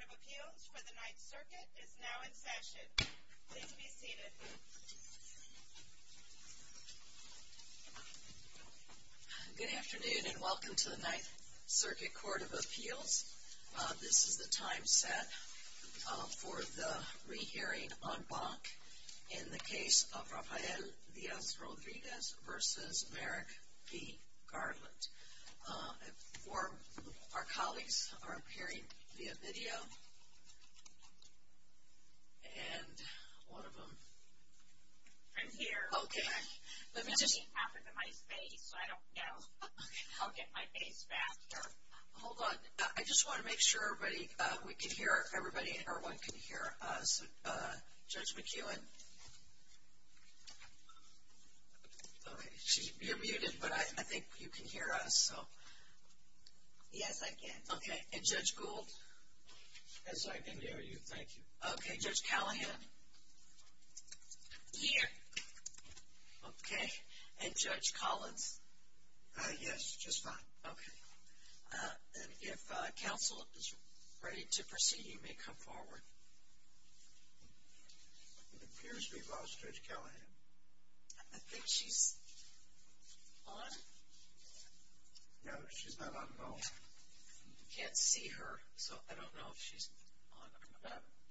Court of Appeals for the Ninth Circuit is now in session. Please be seated. Good afternoon and welcome to the Ninth Circuit Court of Appeals. This is the time set for the rehearing en banc in the case of Rafael Diaz-Rodriguez v. Merrick P. Garland. Our colleagues are appearing via video. Hold on. I just want to make sure everybody and everyone can hear Judge McEwen. You're muted, but I think you can hear us. Yes, I can. Okay. And Judge Gould? As I can hear you. Thank you. Okay. Judge Callahan? Here. Okay. And Judge Collins? Yes, just fine. Okay. If counsel is ready to proceed, you may come forward. Here's Judge Callahan. I think she's on. No, she's not on the phone. You can't see her, so I don't know if she's on.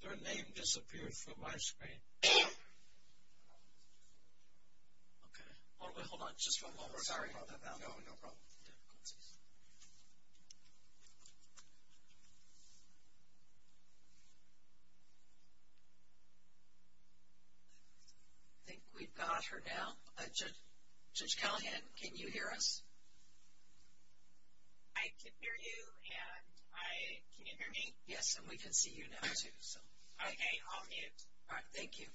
Her name disappeared from my screen. Okay. Hold on. Just one moment. Sorry about that. No problem. I think we've got her now. Judge Callahan, can you hear us? I can hear you, and I can hear me. Yes, and we can see you now, too. Okay. I'll mute. All right. Thank you.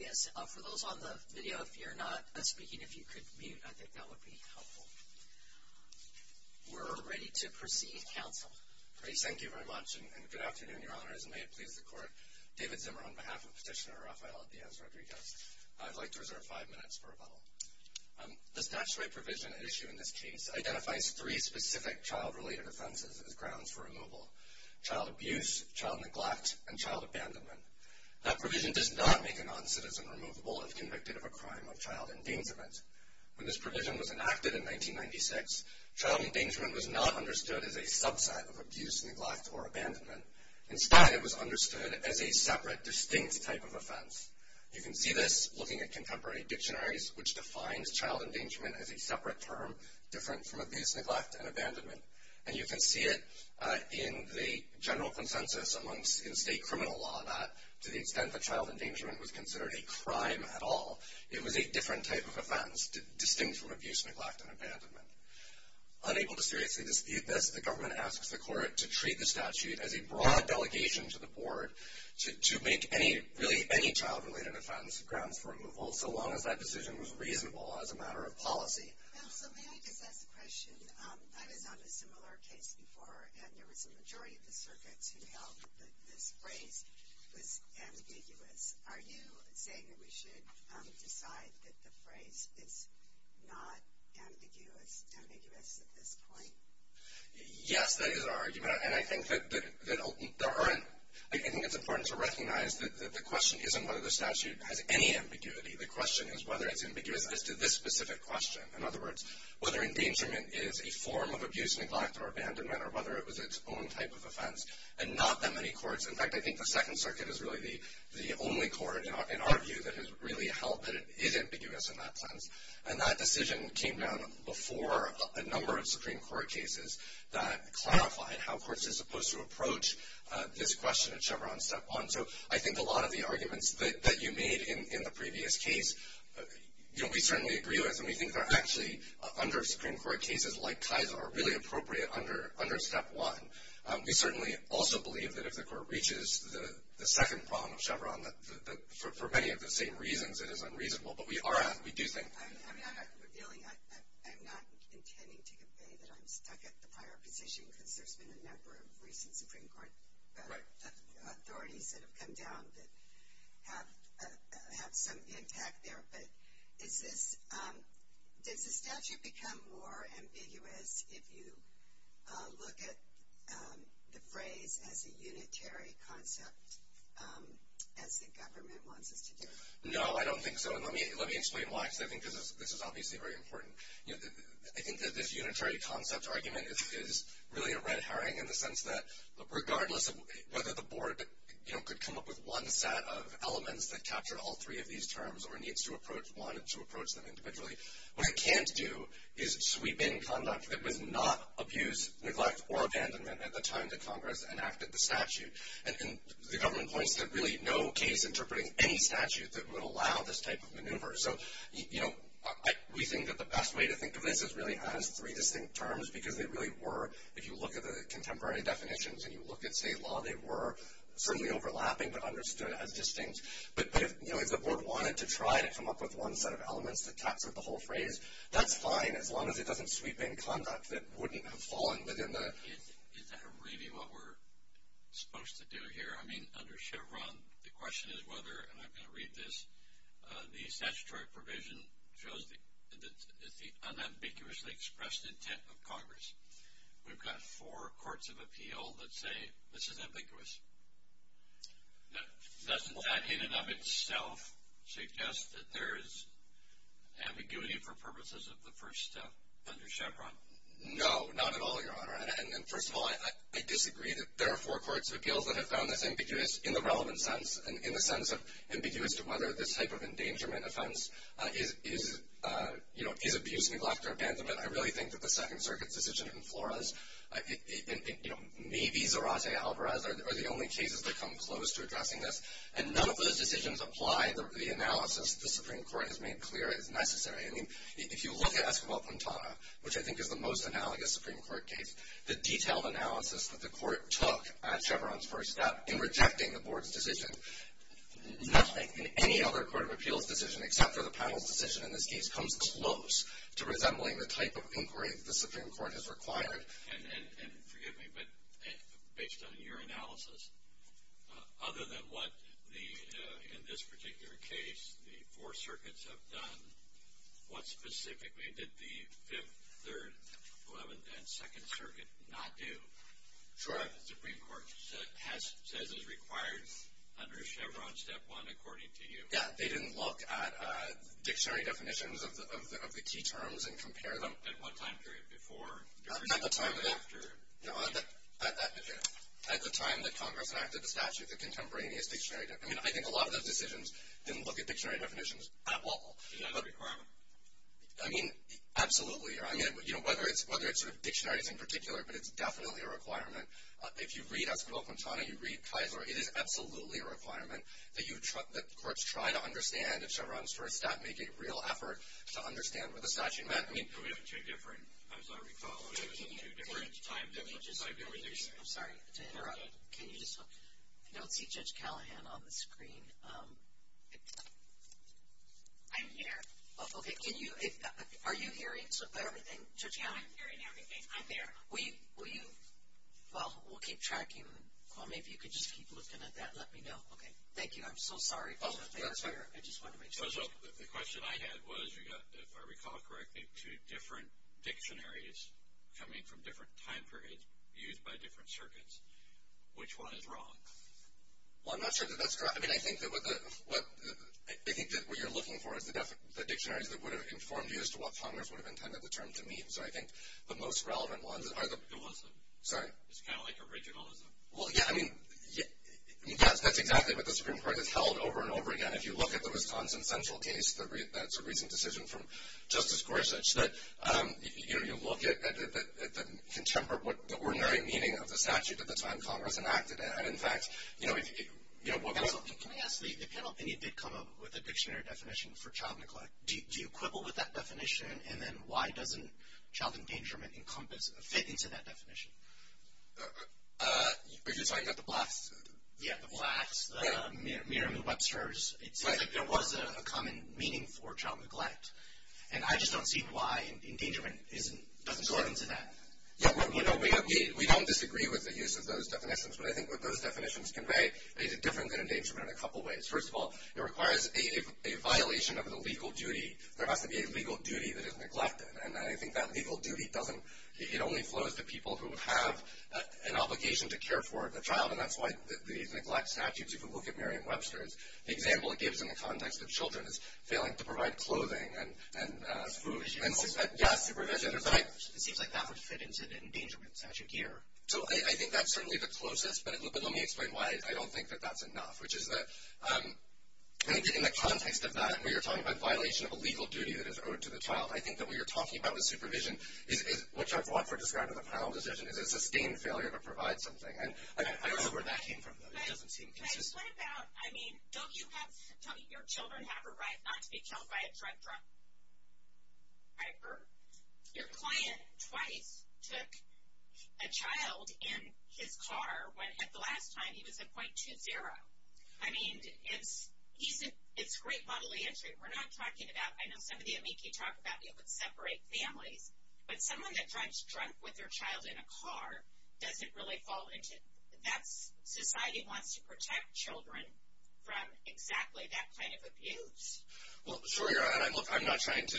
Yes, for those on the video, if you're not speaking, if you could mute, I think that would be helpful. We're ready to proceed, counsel. Great. Thank you very much, and good afternoon, Your Honor. As it may have pleased the Court, David Zimmer on behalf of Petitioner Rafael Diaz Rodriguez, I'd like to reserve five minutes for rebuttal. The statutory provision at issue in this case identifies three specific child-related offenses as grounds for removal, child abuse, child neglect, and child abandonment. That provision does not make a non-citizen unmovable as convicted of a crime of child endangerment. When this provision was enacted in 1996, child endangerment was not understood as a subset of abuse, neglect, or abandonment. In fact, it was understood as a separate, distinct type of offense. You can see this looking at contemporary dictionaries, which defines child endangerment as a separate term different from abuse, neglect, and abandonment. And you can see it in the general consensus amongst the state criminal law that to the extent that child endangerment was considered a crime at all, it was a different type of offense, distinct from abuse, neglect, and abandonment. Unable to seriously dispute this, the government asks the Court to treat the statute as a broad allegation to the Board to make really any child-related offense grounds for removal, so long as that decision was reasonable as a matter of policy. Okay. So may I pick up the question? I was on a similar case before, and there was a majority of the circuit to help that this phrase was ambiguous. Are you saying that we should decide that the phrase is not ambiguous and ambiguous at this point? Yes, that is our argument. And I think it's important to recognize that the question isn't whether the statute has any ambiguity. The question is whether it's ambiguous to this specific question. In other words, whether endangerment is a form of abuse, neglect, or abandonment, or whether it was its own type of offense, and not that many courts. In fact, I think the Second Circuit is really the only court, in our view, that has really helped that it is ambiguous in that sense. And that decision came down before a number of Supreme Court cases that clarified how courts are supposed to approach this question at Chevron Step 1. So I think a lot of the arguments that you made in the previous case, you know, we certainly agree with, and we think they're actually under Supreme Court cases like TISA or really appropriate under Step 1. We certainly also believe that if the court reaches the second problem of Chevron, for many of the same reasons, it is unreasonable. But we are at it, we do think. I'm not intending to convey that I justify our position because there's been a number of recent Supreme Court authorities that have come down that have some impact there. But does the statute become more ambiguous if you look at the phrase as a unitary concept as the government wants it to do? No, I don't think so. And let me explain why I say that because this is obviously very important. I think that this unitary concept argument is really a red herring in the sense that, regardless of whether the board could come up with one set of elements that captured all three of these terms or needs to approach one to approach them individually, what it can't do is sweep in conduct that would not abuse, neglect, or abandonment at the time that Congress enacted the statute. And the government points to really no case interpreting any statute that would allow this type of maneuver. So we think that the best way to think of it is really as three distinct terms because they really were, if you look at the contemporary definitions, if you look at state law, they were certainly overlapping but understood as distinct. But if the board wanted to try to come up with one set of elements that captured the whole phrase, that's fine as long as it doesn't sweep in conduct that wouldn't have fallen within that. Is that really what we're supposed to do here? I mean, under Chevron the question is whether, and I'm going to read this, the statutory provision shows the unambiguously expressed intent of Congress. We've got four courts of appeal that say this is ambiguous. Doesn't that in and of itself suggest that there is ambiguity for purposes of the first step under Chevron? No, not at all, Your Honor. And first of all, I disagree. There are four courts of appeals that have found this ambiguous in the relevant sense, in the sense of ambiguous to whether this type of endangerment offense is abuse, neglect, or abandonment. I really think that the Second Circuit's decision in Flores, I think maybe Zarate Alvarez are the only cases that come close to addressing this. And none of those decisions apply to the analysis that the Supreme Court has made clear as necessary. I mean, if you look at Escobar-Quintana, which I think is the most analogous Supreme Court case, the detailed analysis that the court took at Chevron's first step in rejecting the board's decision. It must not be any other court of appeal's decision except for the panel's decision in this case comes close to resembling the type of inquiry the Supreme Court has required. And forgive me, but based on your analysis, other than what in this particular case the four circuits have done, what specifically did the Third, Eleventh, and Second Circuit not do? Sure. The Supreme Court has said it's required under Chevron's Step 1, according to you. Yeah, they didn't look at dictionary definitions of the key terms and compare them at what time period before. At the time that Congress enacted the statute, the contemporaneous dictionary definition. I mean, I think a lot of those decisions didn't look at dictionary definitions at all. Is that a requirement? I mean, absolutely. I mean, whether it's dictionaries in particular, but it's definitely a requirement. If you read Esquivel-Quintana, you read Tizer, it is absolutely a requirement that the courts try to understand the Chevron's first step, make a real effort to understand what the statute meant. I mean, there were two different, as I recall, there were two different time differences on the dictionary. I'm sorry to interrupt. Can you just tell him on the screen? I'm here. Okay. Are you hearing? Everything. Yeah, I'm hearing everything. I'm here. Well, we'll keep tracking. Well, maybe you could just keep looking at that and let me know. Okay. Thank you. I'm so sorry. I just wanted to make sure. So the question I had was, if I recall correctly, two different dictionaries coming from different time periods used by different circuits. Which one is wrong? Well, I'm not sure that that's correct. I mean, I think that what you're looking for is the dictionaries that would have conformed you to what Congress would have intended the terms to mean. So I think the most relevant ones are the originalism. Well, yeah, I mean, that's exactly what the Supreme Court has held over and over again. If you look at the Wisconsin central case, that's a recent decision from Justice Gorsuch, that you look at the contemporary, the ordinary meaning of the statute that the time Congress enacted it. And, in fact, you know, the penalty did come up with a dictionary definition for child neglect. Do you quibble with that definition? And then why doesn't child endangerment fit into that definition? You're just talking about the blast? Yeah, the blast. Miriam Webster's. It was a common meaning for child neglect. And I just don't see why endangerment doesn't go into that. You know, we don't disagree with the use of those definitions. But I think what those definitions convey is different than endangerment in a couple ways. First of all, it requires a violation of the legal duty. There has to be a legal duty that is neglected. And I think that legal duty doesn't, it only flows to people who have an obligation to care for the child, and that's why these neglect statutes, if you look at Miriam Webster's example, it gives them the context of children failing to provide clothing and food, and all of that. It seems like that was fit into the endangerment statute here. So I think that's certainly the closest. But let me explain why I don't think that that's enough, which is that in the context of that, we were talking about violation of a legal duty that is owed to the child. I think that we were talking about with supervision, which I want for describing the final decision, is a sustained failure to provide something. And I don't know where that came from, though. It doesn't seem to. Can I just point out, I mean, don't you have, your children have a right not to be killed by a truck driver. Your client twice took a child in his car when, at the last time, he was a 0.20. I mean, it's great bodily injury we're not talking about. I know some of you and me keep talking about being able to separate families. But someone that drives a truck with their child in a car, does it really fall into that? Society wants to protect children from exactly that kind of abuse. Well, sure. And I'm not trying to,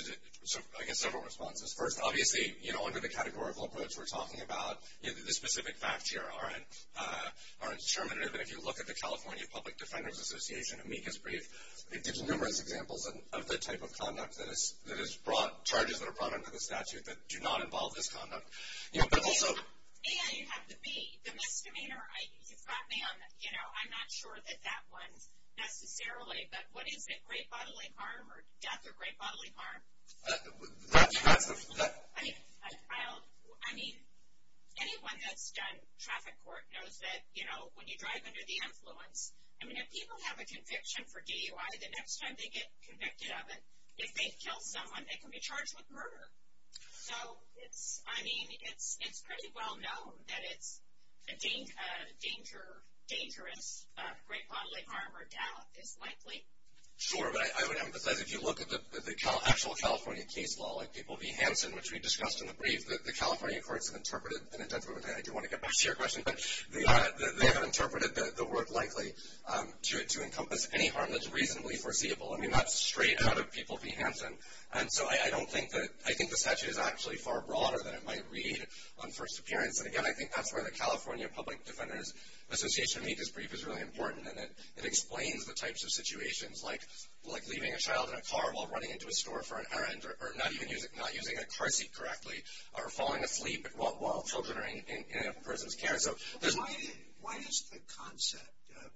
I guess, over-respond to this person. Obviously, you know, under the categorical approach we're talking about, the specific facts here are determinative. And if you look at the California Public Defenders Association, amicus brief, it gives numerous examples of the type of conduct that is brought, charges that are brought under the statute that do not involve this conduct. You know, but also – And it has to be the next demeanor. You know, I'm not sure that that one necessarily, but what is it, great bodily harm or death or great bodily harm? I mean, anyone that's done traffic court knows that, you know, when you drive under the influence, I mean, if people have a conviction for DUI, the next time they get convicted of it, if they kill someone, they can be charged with murder. So, I mean, it's pretty well known that it's dangerous, great bodily harm or death is likely. Sure, but I would emphasize, if you look at the actual California case law, like people be handsome, which we discussed in the brief, the California courts have interpreted – I don't want to get past your question, but they have interpreted the word likely to encompass any harm that's reasonably foreseeable. I mean, that's straight out of people be handsome. And so I don't think that – I think the statute is actually far broader than it might read on first appearance. And, again, I think that's where the California Public Defenders Association amicus brief is really important in that it explains the types of situations like leaving a child in a car while running into a store for an errand or not using a car seat correctly or falling asleep while children are in a person's care. Why doesn't the concept of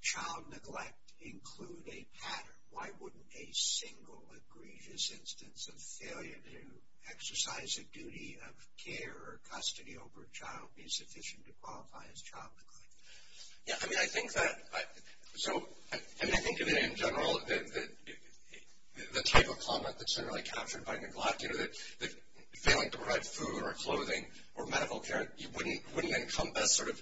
child neglect include a pattern? Why wouldn't a single egregious instance of failure to exercise a duty of care or custody over a child be sufficient to qualify as child neglect? Yeah, I mean, I think that – so, I mean, I think in general the type of comment that's generally captured by neglect, you know, that failing to provide food or clothing or medical care, you wouldn't encompass sort of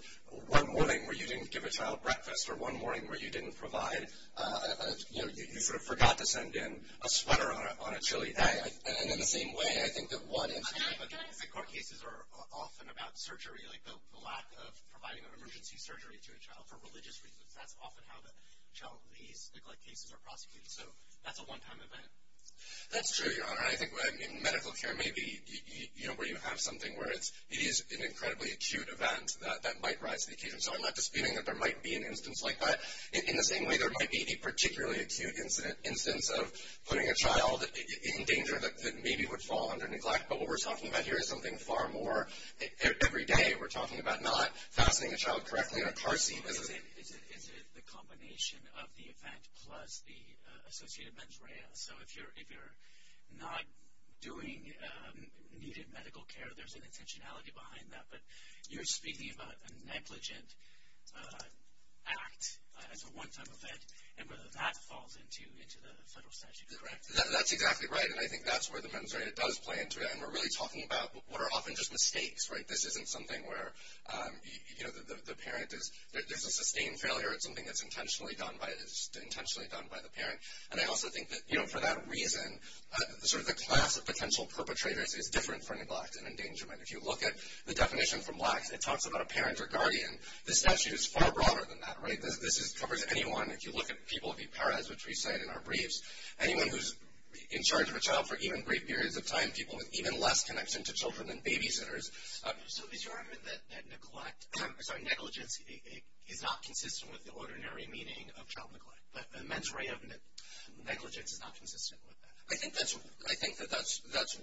one morning where you didn't give a child breakfast or one morning where you didn't provide – you know, you sort of forgot to send in a sweater on a chilly day. And in the same way, I think that one instance – child neglect cases are often about surgery, like the lack of providing emergency surgery to a child for religious reasons. That's often how the child neglect cases are prosecuted. So that's a one-time event. That's true, Your Honor. I think medical care may be, you know, where you have something where it is an incredibly acute event that might rise. So I'm not disputing that there might be an instance like that. In the same way, there might be a particularly acute instance of putting a child in danger that maybe would fall under neglect. But what we're talking about here is something far more – every day we're talking about not putting a child correctly in a car scene. It is the combination of the event plus the associated mens rea. So if you're not doing needed medical care, there's an intentionality behind that. But you're speaking about a negligent act as a one-time event, and where the mat falls into the federal statute, correct? That's exactly right. And I think that's where the mens rea does play into that. And we're really talking about what are often just mistakes, right? This isn't something where, you know, the parent is – there's a sustained failure. It's something that's intentionally done by the parent. And I also think that, you know, for that reason, sort of the class of potential perpetrators is different for neglect and endangerment. If you look at the definition for neglect, it talks about a parent or guardian. The statute is far broader than that, right? This covers anyone. If you look at the people of the Perez, which we said in our briefs, anyone who's in charge of a child for even brief periods of time, people with even less connection to children than babysitters. So the argument that negligence is not consistent with the ordinary meaning of child neglect. The mens rea of negligence is not consistent with that. I think that that's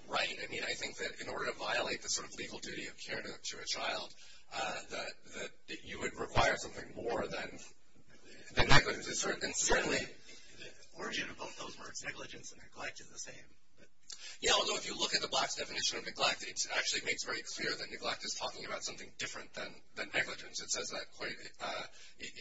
right. I mean, I think that in order to violate the sort of legal duty of caring to a child, that you would require something more than negligence. Certainly the origin of both those words, negligence and neglect, is the same. Yeah, although if you look at the black definition of neglect, it actually makes very clear that neglect is talking about something different than negligence. It says that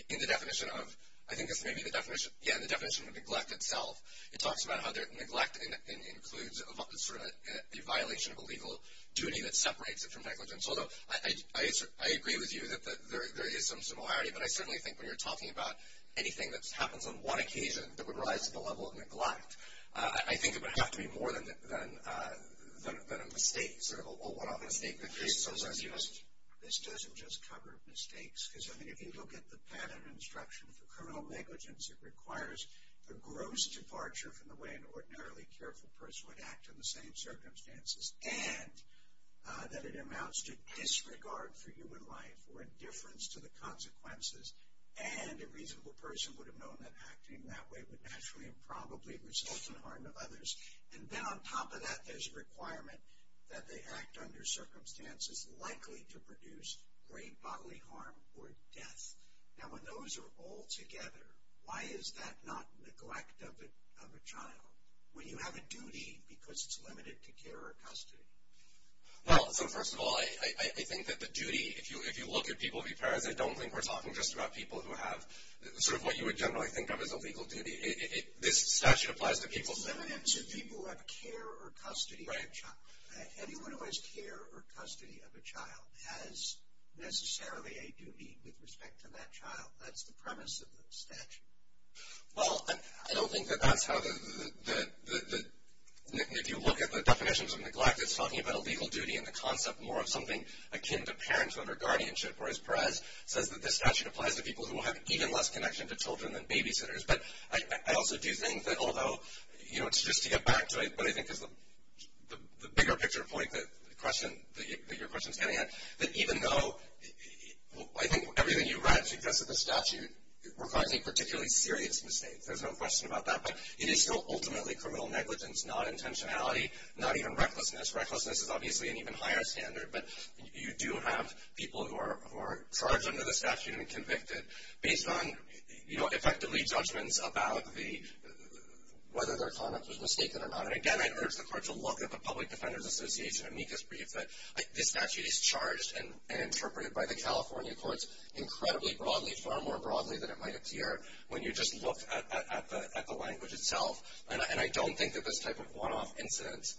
in the definition of – I think it's maybe the definition of neglect itself. It talks about how neglect includes the violation of a legal duty that separates it from negligence. Although I agree with you that there is some similarity, but I certainly think when you're talking about anything that happens on one occasion that would rise to the level of neglect. I think it would have to be more than a mistake, sort of a one-off mistake. The case doesn't just cover mistakes. I mean, if you look at the pattern and structure of the criminal negligence, it requires the gross departure from the way an ordinarily careful person would act in the same circumstances, and that it amounts to disregard for human life or indifference to the consequences. And a reasonable person would have known that acting that way would naturally and probably result in harm to others. And then on top of that, there's a requirement that they act under circumstances likely to produce great bodily harm or death. Now when those are all together, why is that not neglect of a child? When you have a duty because it's limited to care or custody? Well, first of all, I think that the duty, if you look at people who've had it, I don't think we're talking just about people who have sort of what you would generally think of as a legal duty. This statute applies to people who have care or custody of a child. Anyone who has care or custody of a child has necessarily a duty with respect to that child. That's the premise of the statute. Well, I don't think that that's how the – if you look at the definitions of neglect, it's talking about a legal duty and the concept more of something akin to parents under guardianship, whereas Perez says that the statute applies to people who have even less connection to children than babysitters. But I also do think that although, you know, it's just to get back to it, but I think the bigger picture point that your question is getting at, is that even though I think everything you read to get to the statute requires a particularly serious mistake. There's no question about that. But it is still ultimately criminal negligence, not intentionality, not even recklessness. Recklessness is obviously an even higher standard. But you do have people who are charged under the statute and convicted based on, you know, effectively judgments about whether their conduct was mistaken or not. And, again, I urge the court to look at the Public Defender's Association amicus brief. But the statute is charged and interpreted by the California courts incredibly broadly, far more broadly than it might appear, when you just look at the language itself. And I don't think that this type of one-off incidence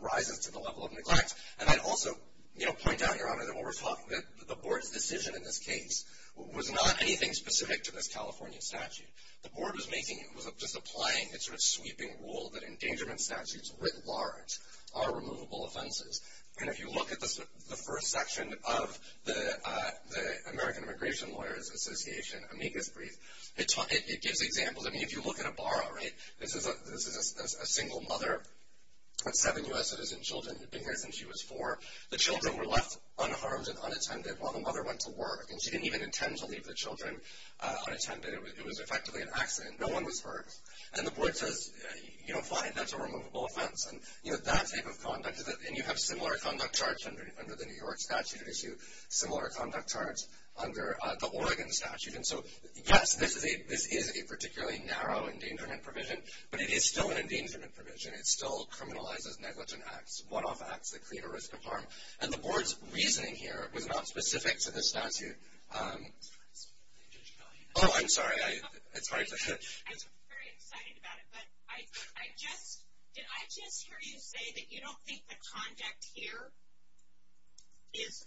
rises to the level of neglect. And I'd also, you know, point out, Your Honor, that the Board's decision in this case was not anything specific to the California statute. The Board was just applying a sort of sweeping rule that, in danger of incidences writ large, are removable offenses. And if you look at the first section of the American Immigration Lawyers Association amicus brief, it gives examples. I mean, if you look at Ibarra, right, this is a single mother with seven U.S. citizen children in her, and she was four. The children were left unharmed and unattended while the mother went to work. And she didn't even intend to leave the children unattended. It was effectively an accident. No one was hurt. And the Board says, you know, fine, that's a removable offense. And, you know, that type of conduct, and you have similar conduct charts under the New York statute issue, similar conduct charts under the Oregon statute. And so, yes, this is a particularly narrow endangerment provision, but it's still an endangerment provision. It still criminalizes negligent acts, one-off acts that create a risk of harm. And the Board's reasoning here was not specific to this statute. Okay. Oh, I'm sorry. I'm very excited about it. But did I just hear you say that you don't think the conduct here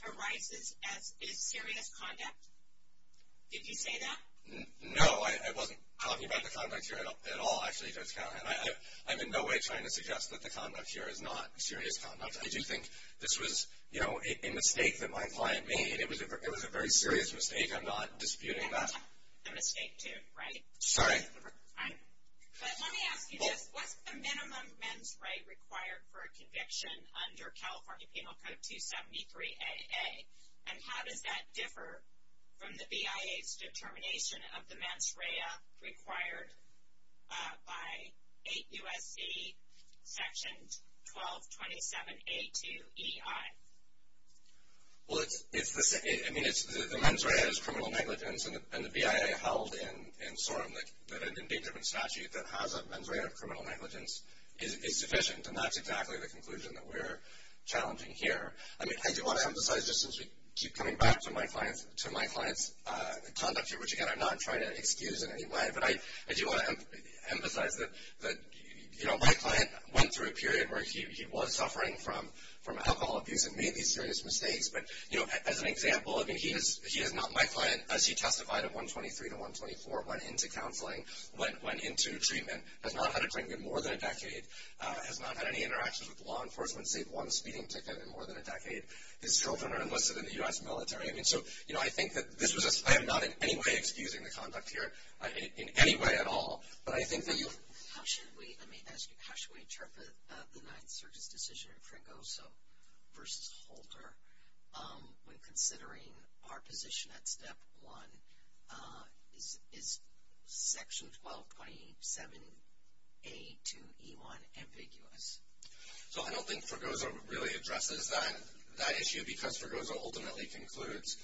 arises as serious conduct? Did you say that? No, I wasn't talking about the conduct here at all, actually. I'm in no way trying to suggest that the conduct here is not serious conduct. I do think this was, you know, a mistake that my client made. It was a very serious mistake. I'm not disputing that. A mistake, too, right? Sorry. Let me ask you this. What's the minimum mens rea required for a conviction under California Penal Code 273AA? And how does that differ from the BIA's determination of the mens rea required by 8 U.S.C. Sections 1227A2EI? Well, I mean, the mens rea is criminal negligence, and the BIA held in the indictment statute that has a mens rea of criminal negligence is sufficient, and that's exactly the conclusion that we're challenging here. I do want to emphasize, just since we keep coming back to my client's conduct here, which, again, I'm not trying to excuse in any way, but I do want to emphasize that, you know, my client went through a period where he was suffering from alcohol abuse and made these serious mistakes. But, you know, as an example, I mean, he is not my client. As he testified at 123 to 124, went into counseling, went into treatment, has not had a clinic in more than a decade, has not had any interaction with law enforcement, saved one speeding ticket in more than a decade. His children are enlisted in the U.S. military. And so, you know, I think that this was a, I'm not in any way excusing the conduct here, in any way at all, but I think that you would. How should we interpret the United Services decision in Fringo versus Holter when considering our position at Step 1? Is Section 12.7A to E1 ambiguous? So I don't think Fringo would really address that issue because Frigoza ultimately concludes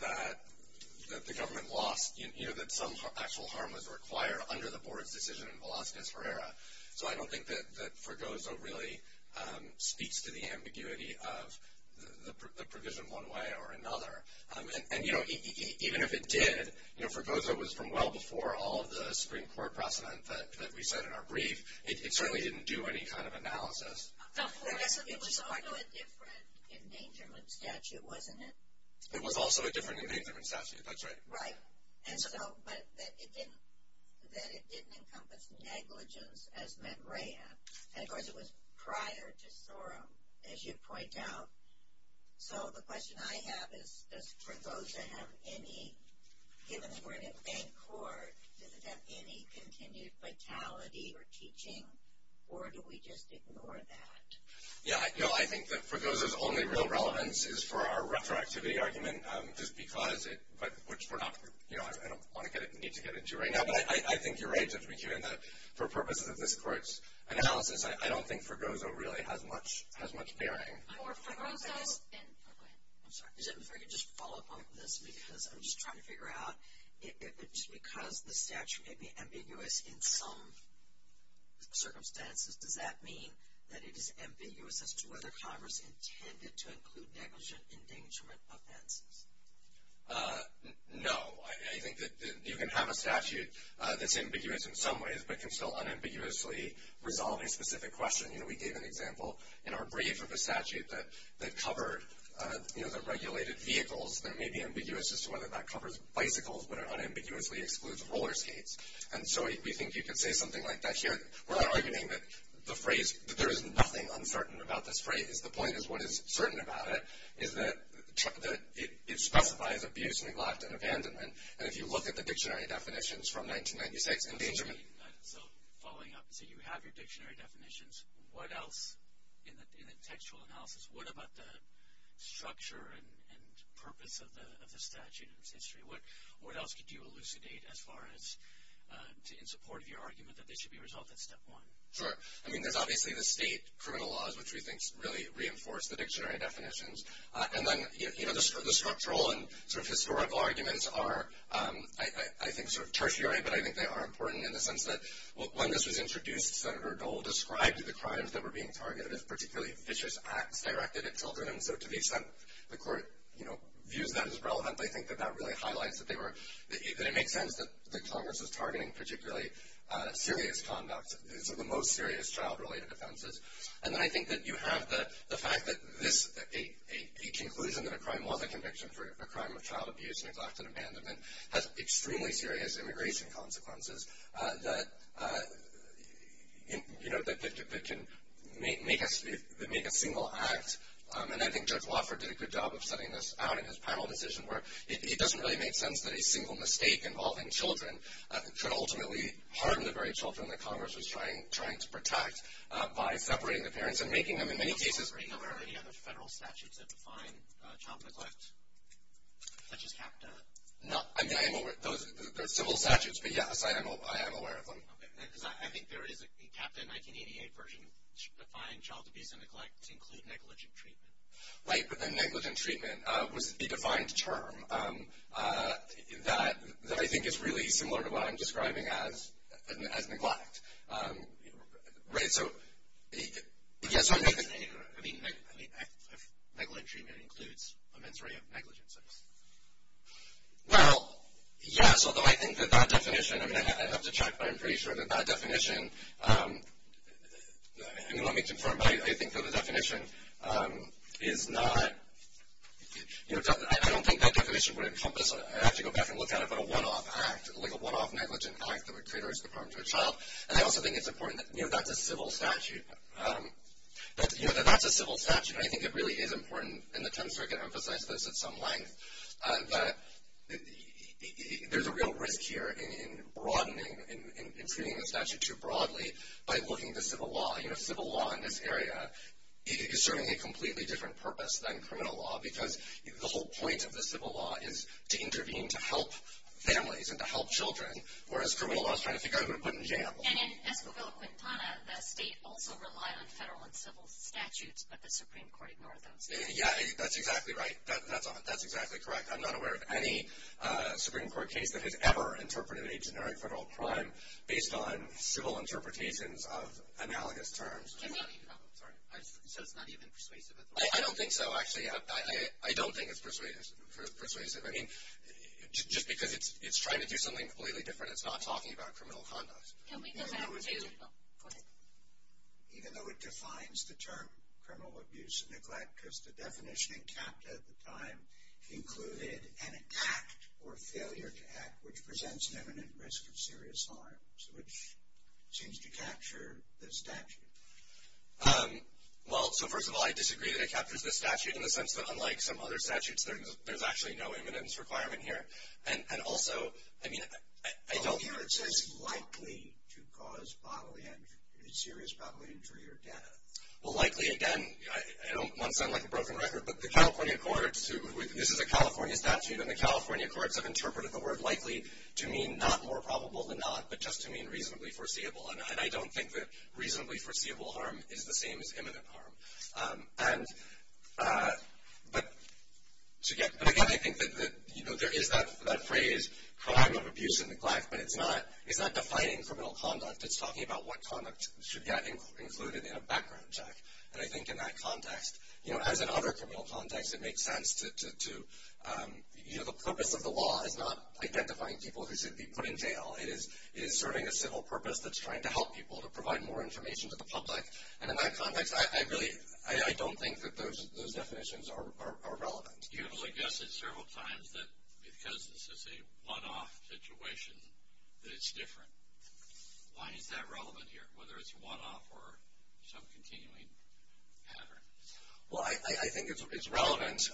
that the government lost, you know, that some actual harm was required under the board's decision in Velazquez Herrera. So I don't think that Frigoza really speaks to the ambiguity of the provision one way or another. And, you know, even if it did, you know, Frigoza was from well before all of the Supreme Court precedents that we said in our brief. It certainly didn't do any kind of analysis. It was also a different endangerment statute, wasn't it? It was also a different endangerment statute, that's right. Right. And so, but it didn't encompass negligence as met REA. And, of course, it was prior to SORM, as you point out. So the question I have is, does Frigoza have any, given that we're in a faint court, does it have any continued fatality or teaching, or do we just ignore that? Yeah, I think that Frigoza's only real relevance is for our retroactivity argument, which I don't want to get into right now. But I think you're right, given that for purposes of this court's analysis, I don't think Frigoza really has much bearing. Oh, go ahead. I'm sorry. Is it okay to just follow up on this? Because I'm just trying to figure out, if it's because the statute may be ambiguous in some circumstances, does that mean that it is ambiguous as to whether Congress intended to include negligent endangerment offenses? No. I think that you can have a statute that's ambiguous in some ways but can still unambiguously resolve a specific question. We gave an example in our brief of a statute that covered the regulated vehicles that may be ambiguous as to whether that covers bicycles but unambiguously excludes rollerskates. And so we think you could say something like that here. We're arguing that the phrase, that there is nothing uncertain about this phrase. The point is, what is certain about it is that it specifies abuse, neglect, and abandonment. And if you look at the dictionary definitions from 1996, So following up, so you have your dictionary definitions. What else in the textual analysis, what about the structure and purpose of the statute in this history? What else could you elucidate as far as in support of your argument that this should be resolved in step one? Sure. I mean, there's obviously the state criminal laws, which we think really reinforce the dictionary definitions. And then the structural and sort of historical arguments are, I think, sort of tertiary, but I think they are important in the sense that, well, when this was introduced, Senator Dole described the crimes that were being targeted as particularly vicious acts directed at children. And so to the extent the court, you know, used that as relevant, I think that that really highlights that they make sense, that Congress is targeting particularly serious conduct. These are the most serious child-related offenses. And then I think that you have the fact that each inclusion in a crime law, the conviction for a crime of child abuse, neglect, and abandonment, has extremely serious immigration consequences that, you know, that can make a single act. And I think Judge Wofford did a good job of setting this out in his panel decision where it doesn't really make sense that a single mistake involving children could ultimately harm the very children that Congress was trying to protect by separating the parents and making them, in many cases, Are you aware of any other federal statutes that define child neglect, such as CAPTA? No. I mean, there are civil statutes, but, yes, I am aware of them. I think there is a CAPTA 1988 version to define child abuse and neglect to include negligent treatment. Right, but then negligent treatment would be defined as a term that I think is really similar to what I'm describing as neglect. Right, so, yes, I mean, neglect treatment includes a mentory of negligence. Well, yes, although I think that that definition, I mean, I have to check, but I'm pretty sure that that definition, let me confirm, but I think that the definition is not, I don't think that definition would encompass, I'd have to go back and look at it, but a one-off act, and I also think it's important that that's a civil statute. That's a civil statute, and I think it really is important in the terms we're going to emphasize this at some length, but there's a real risk here in broadening and including the statute too broadly by looking to civil law. You know, civil law in this area is serving a completely different purpose than criminal law because the whole point of the civil law is to intervene to help families and to help children, whereas criminal law is trying to figure out who to put in jail. And it's at the real quick time that states also rely on federal and civil statutes, but the Supreme Court ignored them. Yeah, that's exactly right. That's exactly correct. I'm not aware of any Supreme Court case that had ever interpreted a generic federal crime based on civil interpretations of analogous terms. So it's not even persuasive at all? I don't think so, actually. I don't think it's persuasive. I mean, just because it's trying to do something completely different, it's not talking about criminal conduct. Even though it defines the term criminal abuse and neglect, because the definition in CAPTA at the time included an act or failure to act which presents imminent risk of serious harm, which seems to capture the statute. Well, so first of all, I disagree that it captures the statute in the sense that unlike some other statutes, there's actually no imminence requirement here. And also, I mean, I don't hear it. So it's likely to cause bodily injury or death? Well, likely, again, I don't want to sound like a broken record, but the California courts, this is a California statute, and the California courts have interpreted the word likely to mean not more probable than not, but just to mean reasonably foreseeable. And I don't think that reasonably foreseeable harm is the same as imminent harm. But, again, I think that there is that phrase, crime of abuse and neglect, but it's not defining criminal conduct. It's talking about what conduct should get included in a background check. And I think in that context, you know, as in other criminal contexts, it makes sense to, you know, the purpose of the law is not identifying people who should be put in jail. It is serving a civil purpose that's trying to help people to provide more information to the public. And in that context, I really don't think that those definitions are relevant. You have suggested several times that because this is a one-off situation, that it's different. Why is that relevant here, whether it's a one-off or some continuing pattern? Well, I think it's relevant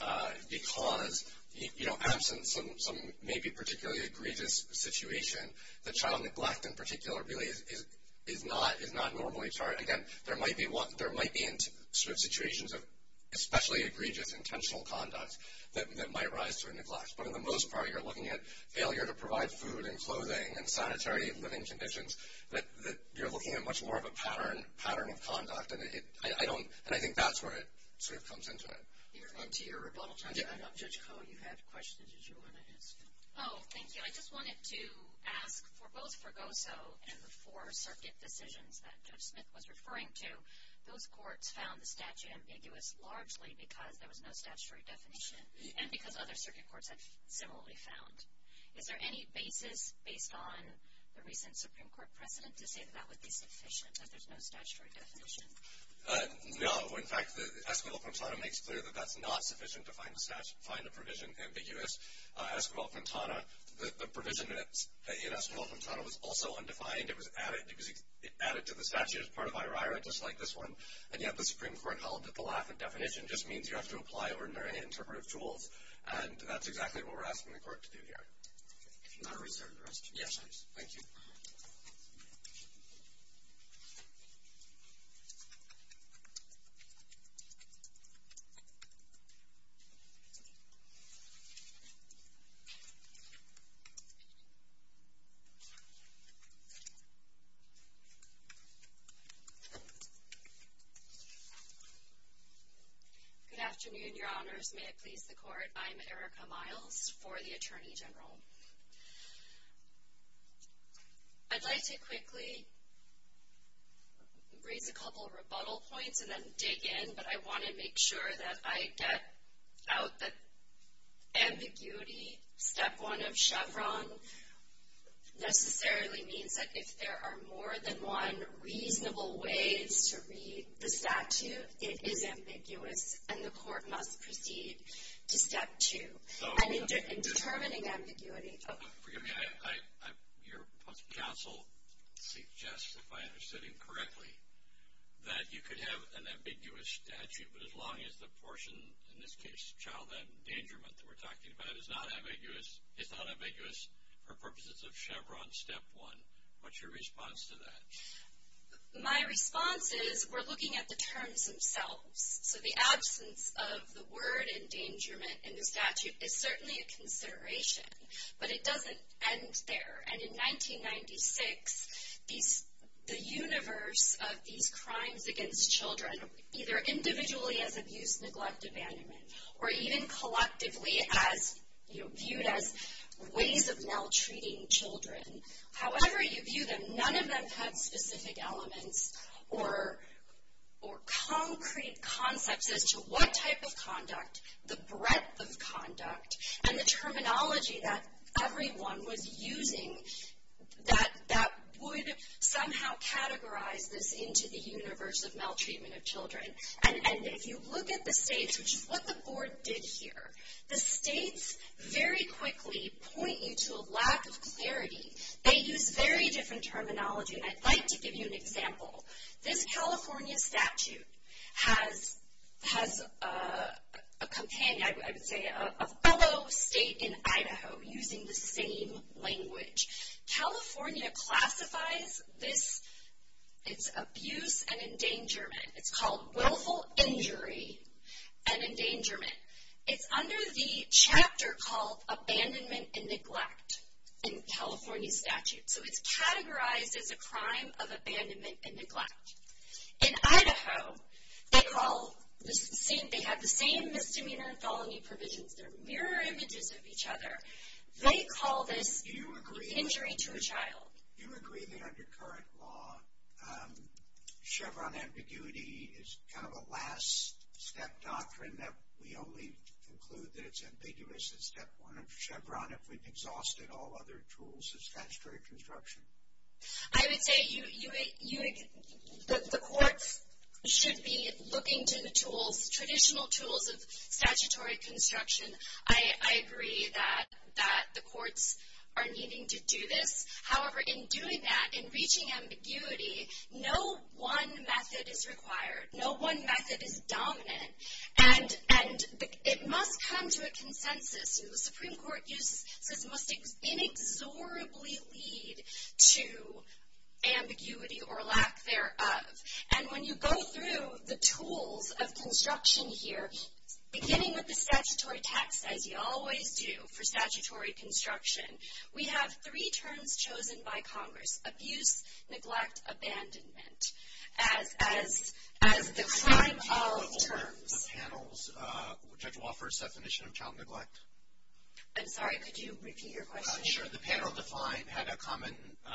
because, you know, perhaps in some maybe particularly egregious situation, the child neglect in particular really is not normally charged. Again, there might be situations of especially egregious intentional conduct that might rise through neglect. But for the most part, you're looking at failure to provide food and clothing and sanitary living conditions that you're looking at much more of a pattern of conduct. And I think that's where it sort of comes into it. You're going to your rebuttal time. Judge Cohen, you had questions. Did you want to answer them? Oh, thank you. I just wanted to ask, for both Progoso and the four circuit decisions that Judge Smith was referring to, both courts found the statute ambiguous largely because there was no statutory definition and because other circuit courts have similarly found. Is there any basis based on the recent Supreme Court precedent to say that that would be sufficient, that there's no statutory definition? No. In fact, Esquivel-Quintana makes clear that that's not sufficient to find the provision ambiguous. Esquivel-Quintana, the provision in Esquivel-Quintana was also undefined. It was added to the statute as part of IRI, just like this one, and yet the Supreme Court held that the lack of definition just means you have to apply ordinary interpretive tools, and that's exactly what we're asking the court to do here. If you want to reserve the rest of your sessions. Thank you. Good afternoon, Your Honors. May it please the Court. I'm Erica Miles for the Attorney General. I'd like to quickly raise a couple of rebuttal points and then dig in, but I want to make sure that I get out the ambiguity. Step one of Chevron necessarily means that if there are more than one reasonable way to read the statute, it is ambiguous, and the court must proceed to step two in determining ambiguity. Your counsel suggests, if I understood him correctly, that you could have an ambiguous statute as long as the portion, in this case, Child Abuse and Endangerment that we're talking about is not ambiguous for purposes of Chevron step one. What's your response to that? My response is we're looking at the terms themselves. So the absence of the word endangerment in the statute is certainly a consideration, but it doesn't end there. And in 1996, the universe of these crimes against children, either individually as abuse, neglect, abandonment, or even collectively viewed as ways of maltreating children, however you view them, none of them have specific elements or concrete concepts as to what type of conduct, the breadth of conduct, and the terminology that everyone was using that would somehow categorize this into the universe of maltreatment of children. And if you look at the states, which is what the board did here, the states very quickly point you to a lack of clarity. They use very different terminology. I'd like to give you an example. This California statute has a fellow state in Idaho using the same language. California classifies this as abuse and endangerment. It's called Willful Injury and Endangerment. It's under the chapter called Abandonment and Neglect in California statutes. So it's categorized as a crime of abandonment and neglect. In Idaho, they have the same misdemeanor and solemnity provisions. They're mirror images of each other. They call this injuring to a child. Do you agree that under current law, Chevron ambiguity is kind of a last-step doctrine that we only conclude that it's ambiguous as Step 1 of Chevron if we've exhausted all other tools of statutory construction? I would say the court should be looking to the tools, traditional tools of statutory construction. I agree that the courts are needing to do this. However, in doing that, in reaching ambiguity, no one method is required. No one method is dominant. And it must come to a consensus in the Supreme Court that this must inexorably lead to ambiguity or lack thereof. And when you go through the tools of construction here, beginning with the statutory text, as you always do for statutory construction, we have three terms chosen by Congress, abuse, neglect, abandonment, as the prime tolerable terms. The panel's judge will offer a definition of child neglect. I'm sorry, could you repeat your question? Sure. The panel declined to have a common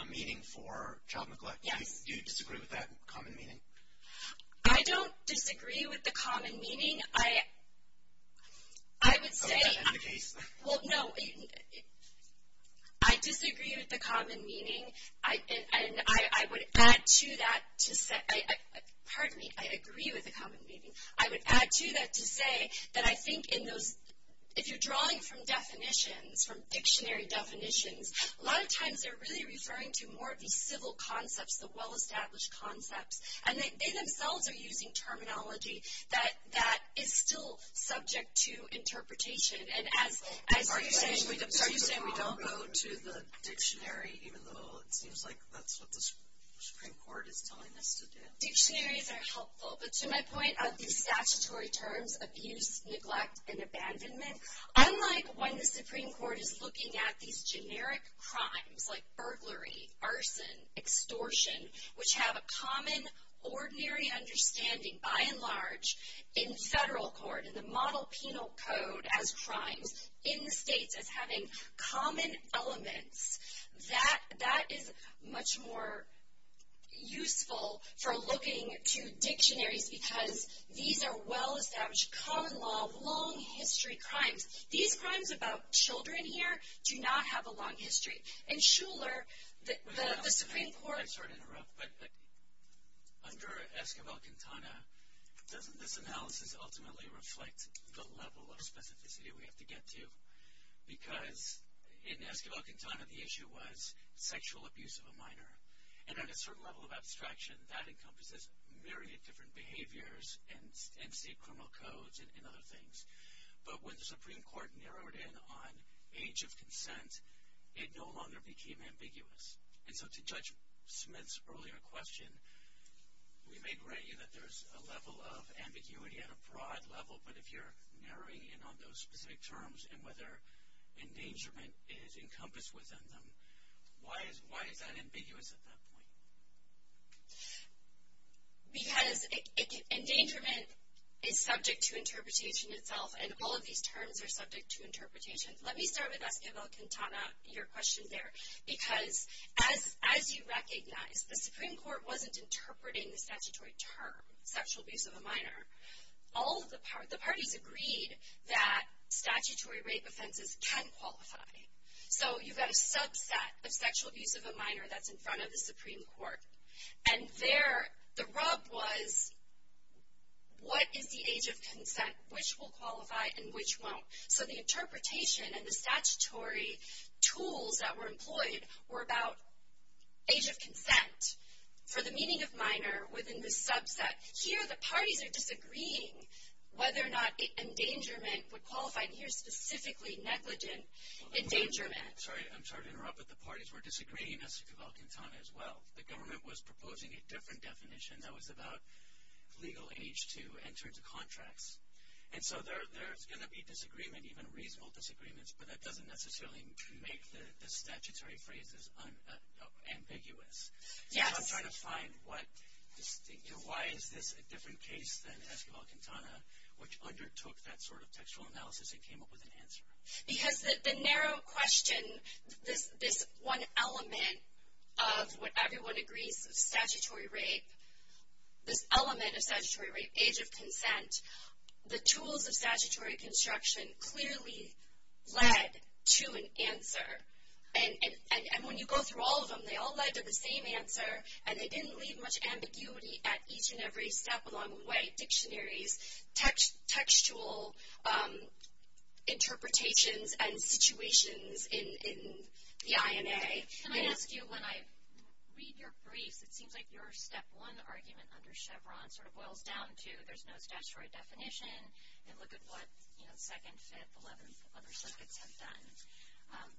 meaning for child neglect. Do you disagree with that common meaning? I don't disagree with the common meaning. I would say – Okay, that's the case. Well, no, I disagree with the common meaning. And I would add to that to say – pardon me, I agree with the common meaning. I would add to that to say that I think if you're drawing from definitions, from dictionary definitions, a lot of times they're really referring to more of the civil concepts, the well-established concepts. And they themselves are using terminology that is still subject to interpretation. Are you saying we don't go to the dictionary, even though it seems like that's what the Supreme Court is telling us to do? Dictionaries are helpful. But to my point, the statutory terms abuse, neglect, and abandonment, unlike when the Supreme Court is looking at these generic crimes, like burglary, arson, extortion, which have a common ordinary understanding by and large in federal court, which is a model penal code as crime in the state that's having common elements, that is much more useful for looking to dictionaries because these are well-established, common law, long-history crimes. These crimes about children here do not have a long history. I'm sorry to interrupt, but under Esquivel-Quintana, doesn't this analysis ultimately reflect the level of specificity we have to get to? Because in Esquivel-Quintana, the issue was sexual abuse of a minor. And at a certain level of abstraction, that encompasses myriad different behaviors and state criminal codes and other things. But when the Supreme Court narrowed in on age of consent, it no longer became ambiguous. And so to Judge Smith's earlier question, we may agree that there's a level of ambiguity at a broad level, but if you're narrowing in on those specific terms and whether endangerment is encompassed within them, why is that ambiguous at that point? Because endangerment is subject to interpretation itself, and all of these terms are subject to interpretation. Let me start with Esquivel-Quintana, your question there. Because as you recognize, the Supreme Court wasn't interpreting the statutory term, sexual abuse of a minor. All of the parties agreed that statutory rape offenses can qualify. So you've got a subset of sexual abuse of a minor that's in front of the Supreme Court. And there the rub was, what is the age of consent? Which will qualify and which won't? So the interpretation and the statutory tools that were employed were about age of consent for the meaning of minor within this subset. Here the parties are disagreeing whether or not the endangerment would qualify, and here's specifically negligent endangerment. I'm sorry to interrupt, but the parties were disagreeing. That's Esquivel-Quintana as well. The government was proposing a different definition that was about legal age to enter into contracts. And so there's going to be disagreement, even reasonable disagreement, but that doesn't necessarily make the statutory phrases ambiguous. I'm trying to find why is this a different case than Esquivel-Quintana, which undertook that sort of sexual analysis and came up with an answer. Because the narrow question, this one element of what everyone agrees is statutory rape, this element of statutory rape, age of consent, the tools of statutory construction clearly led to an answer. And when you go through all of them, they all led to the same answer, and it didn't leave much ambiguity at each and every step along the way, dictionaries, textual interpretations and situations in the INA. Can I ask you, when I read your brief, it seems like your step one argument under Chevron sort of boils down to there's no statutory definition and look at what second, fifth, eleventh, other subjects have done.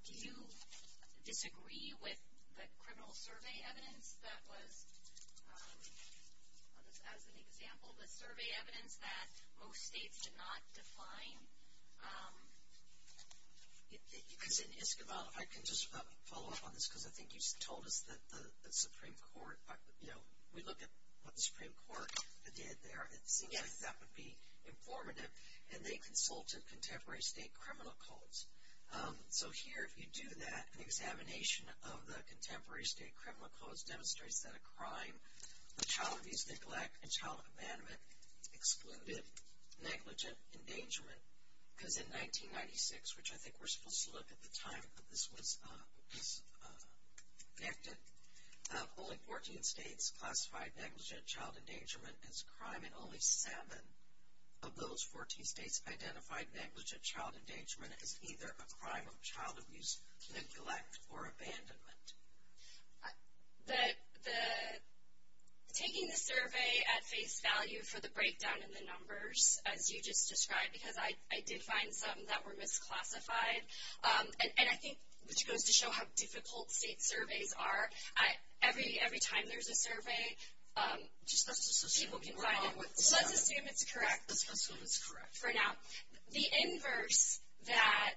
Do you disagree with the criminal survey evidence that was, as an example, the survey evidence that most states did not define? Because in Esquivel, if I can just follow up on this, because I think you told us that the Supreme Court, you know, we look at what the Supreme Court did there, and, again, that would be informative, and they consulted contemporary state criminal codes. So here, if you do that, the examination of the contemporary state criminal codes demonstrates that a crime, a child abuse, neglect, and child abandonment excluded negligent endangerment. And in 1996, which I think we're supposed to look at the time that this was enacted, only 14 states classified negligent child endangerment as a crime, and only seven of those 14 states identified negligent child endangerment as either a crime of child abuse, neglect, or abandonment. The taking the survey at face value for the breakdown in the numbers, as you just described, because I did find some that were misclassified, and I think it goes to show how difficult state surveys are. Every time there's a survey, let's just see if it's correct. Let's just see if it's correct. The inverse that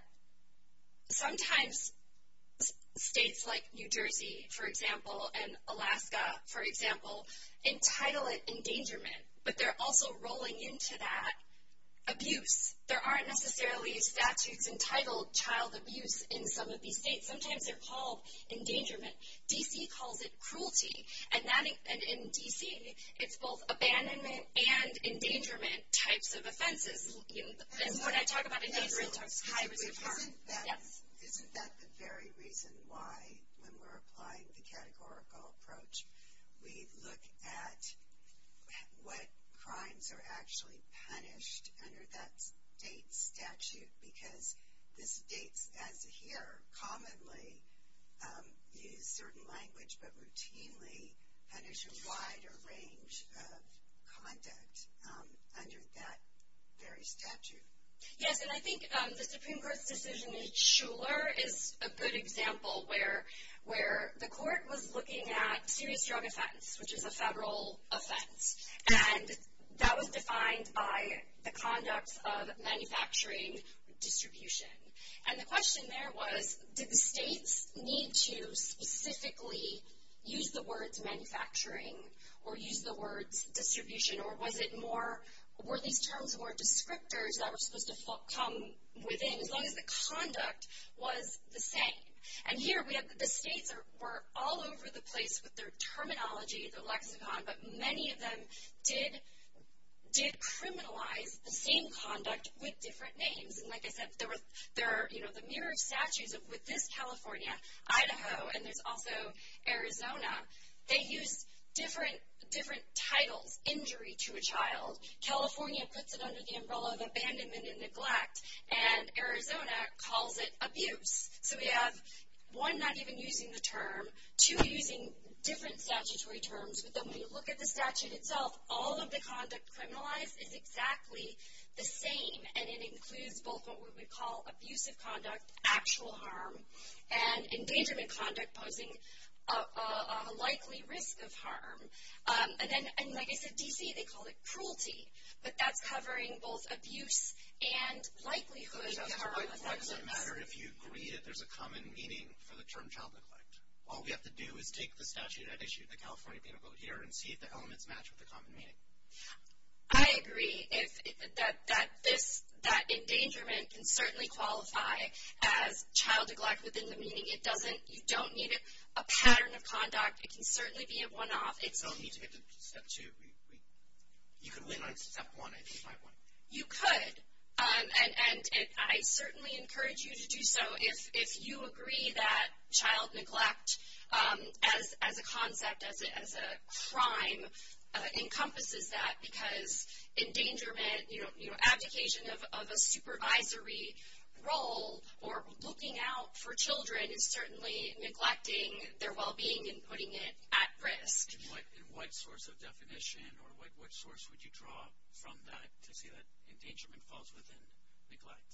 sometimes states like New Jersey, for example, and Alaska, for example, entitle it endangerment, but they're also rolling into that abuse. There aren't necessarily statutes entitled child abuse in some of these states. Sometimes they're called endangerment. D.C. called it cruelty. And in D.C., it's both abandonment and endangerment types of offenses. And what I talk about in those reports is child abuse. Isn't that the very reason why, when we're applying the categorical approach, we look at what crimes are actually punished under that state statute? Because the states, as we hear commonly, use certain language, but routinely punish a wider range of conduct under that very statute. Yes, and I think the Supreme Court's decision in Shuler is a good example, where the Court was looking at serious drug offense, which is a federal offense. And that was defined by the conduct of manufacturing distribution. And the question there was, did the states need to specifically use the word manufacturing or use the word distribution, or were these terms more descriptors that were supposed to come within? What if the conduct was the same? And here we have the states that were all over the place with their terminology but many of them did decriminalize the same conduct with different names. And like I said, there are the mirrored statutes within California, Idaho, and there's also Arizona. They use different titles, injury to a child. California puts it under the umbrella of abandonment and neglect, and Arizona calls it abuse. So we have one not even using the term, two using different statutory terms. But then when you look at the statute itself, all of the conduct criminalized is exactly the same, and it includes both what we call abusive conduct, actual harm, and endangerment conduct posing a likely risk of harm. And then, like I said, D.C., they call it cruelty, but that's covering both abuse and likelihood of harm. And then why does it matter if you agree that there's a common meaning for the term child neglect? All we have to do is take the statute that issues the California Penal Code here and see if the elements match with the common meaning. I agree that endangerment can certainly qualify as child neglect within the meaning. You don't need a pattern of conduct. It can certainly be a one-off. It's a step two. You can win on step one if you try one. You could. And I certainly encourage you to do so if you agree that child neglect as a concept, as a crime, encompasses that, because endangerment, you know, application of a supervisory role for looking out for children is certainly neglecting their well-being and putting it at risk. Can you, like, in what source of definition or what source would you draw from that to see that endangerment falls within neglect?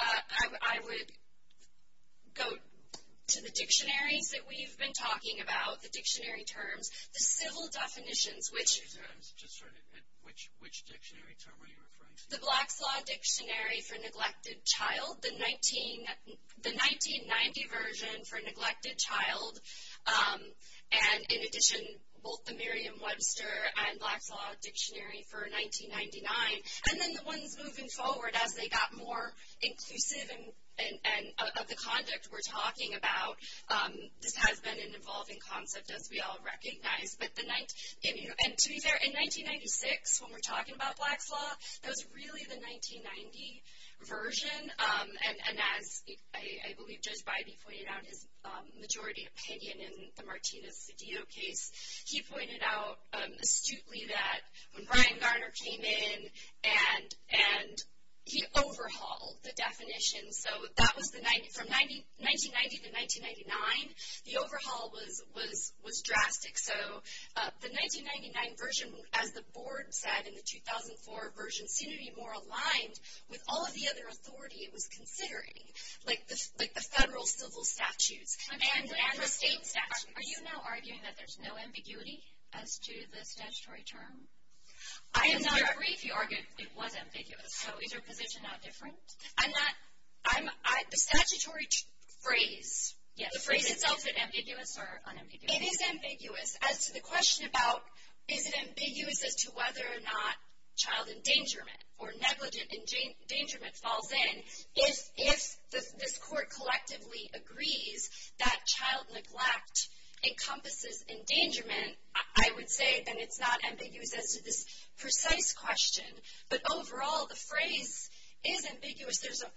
I would go to the dictionary that we've been talking about, the dictionary terms. The civil definitions, which – I'm just trying to – which dictionary term are you referring to? The Black Claw Dictionary for Neglected Child, the 1990 version for neglected child, and in addition both the Merriam-Webster and Black Claw Dictionary for 1999, and then the ones moving forward as they got more inclusive of the context we're talking about. This has been an evolving concept, as we all recognize, but the – and to be fair, in 1996, when we're talking about Black Claw, that was really the 1990 version, and as I believe Judge Bybee pointed out in majority opinion in the Martinez-Sedillo case, he pointed out astutely that when Brian Garner came in and he overhauled the definition, so that was the – from 1990 to 1999, the overhaul was drastic. So the 1999 version, as the board said, and the 2004 version seemed to be more aligned with all of the other authority it was considering, like the federal civil statutes and the state statutes. Are you now arguing that there's no ambiguity as to the statutory term? I do not agree if you argue it was ambiguous. So is your position now different? I'm not – I'm – the statutory phrase – The phrase itself is ambiguous or unambiguous? It is ambiguous. As to the question about is it ambiguous as to whether or not child endangerment or negligent endangerment falls in, if this court collectively agrees that child neglect encompasses endangerment, I would say that it's not ambiguous as to this precise question. But overall, the phrase is ambiguous. There's a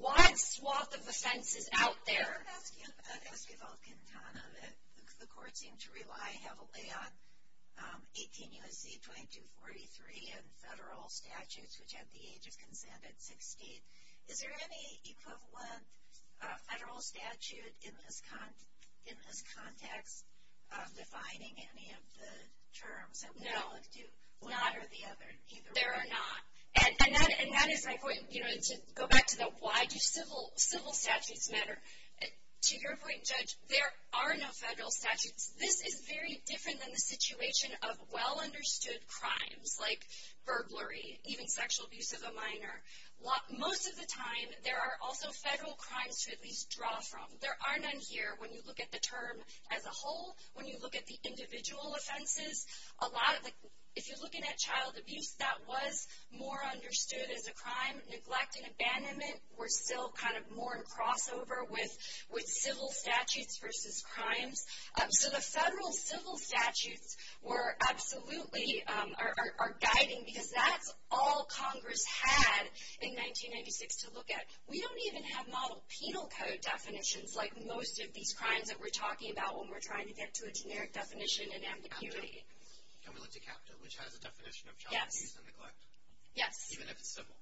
wide swath of offenses out there. I have a question about the case of El Tribal Quintana that the court seems to rely heavily on 18 U.S.C. 2243 and federal statutes, which have the age of consent at 16. Is there any equivalent federal statute in this context defining any of the terms? No. One or the other? There are not. And that is my point. You can go back to the why do civil statutes matter. To your point, Judge, there are no federal statutes. This is very different than the situation of well-understood crimes like burglary, even sexual abuse of a minor. Most of the time, there are also federal crimes to at least draw from. There are none here when you look at the term as a whole, when you look at the individual offenses. If you're looking at child abuse, that was more understood as a crime. Neglect and abandonment were still kind of more in crossover with civil statutes versus crimes. So the federal civil statutes were absolutely guiding, because that's all Congress had in 1996 to look at. We don't even have model penal code definitions like most of these crimes that we're talking about when we're trying to get to a generic definition in ambiguity. And we looked at CAPTA, which has a definition of child abuse and neglect. Yes. Even if it's civil.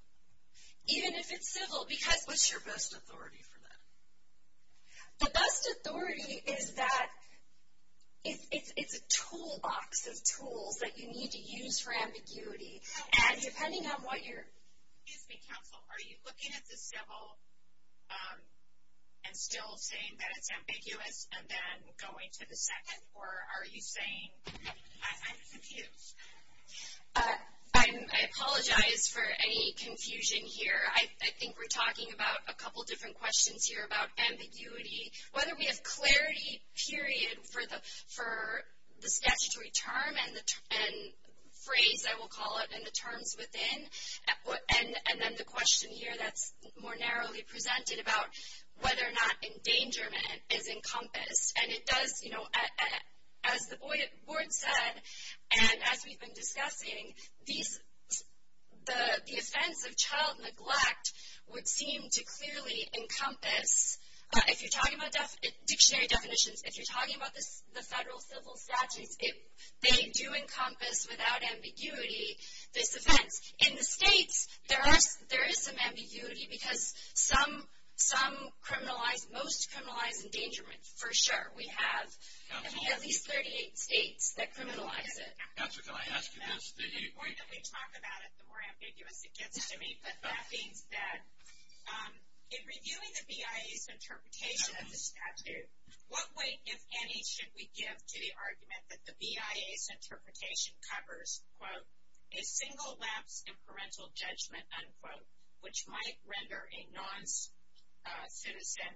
Even if it's civil, because what's your best authority for that? The best authority is that it's a toolbox of tools that you need to use for ambiguity. And depending on what you're – I'm still saying that it's ambiguous and then going to the second. Or are you saying I'm confused? I apologize for any confusion here. I think we're talking about a couple different questions here about ambiguity, whether we have clarity, period, for the statutory term and the phrase, I will call it, and the terms within. And then the question here that's more narrowly presented about whether or not endangerment is encompassed. And it does, you know, as the board said, and as we've been discussing, the offense of child neglect would seem to clearly encompass, if you're talking about dictionary definitions, if you're talking about the federal civil statute, if they do encompass without ambiguity this offense. In the states, there is some ambiguity because some criminalize, most criminalize endangerment, for sure. We have at least 38 states that criminalize it. That's what I'm asking. The more that we talk about it, the more ambiguous it gets. But that being said, in reviewing the BIA's interpretation of the statute, what weight, if any, should we give to the argument that the BIA's interpretation covers, quote, a single lapse in parental judgment, unquote, which might render a non-citizen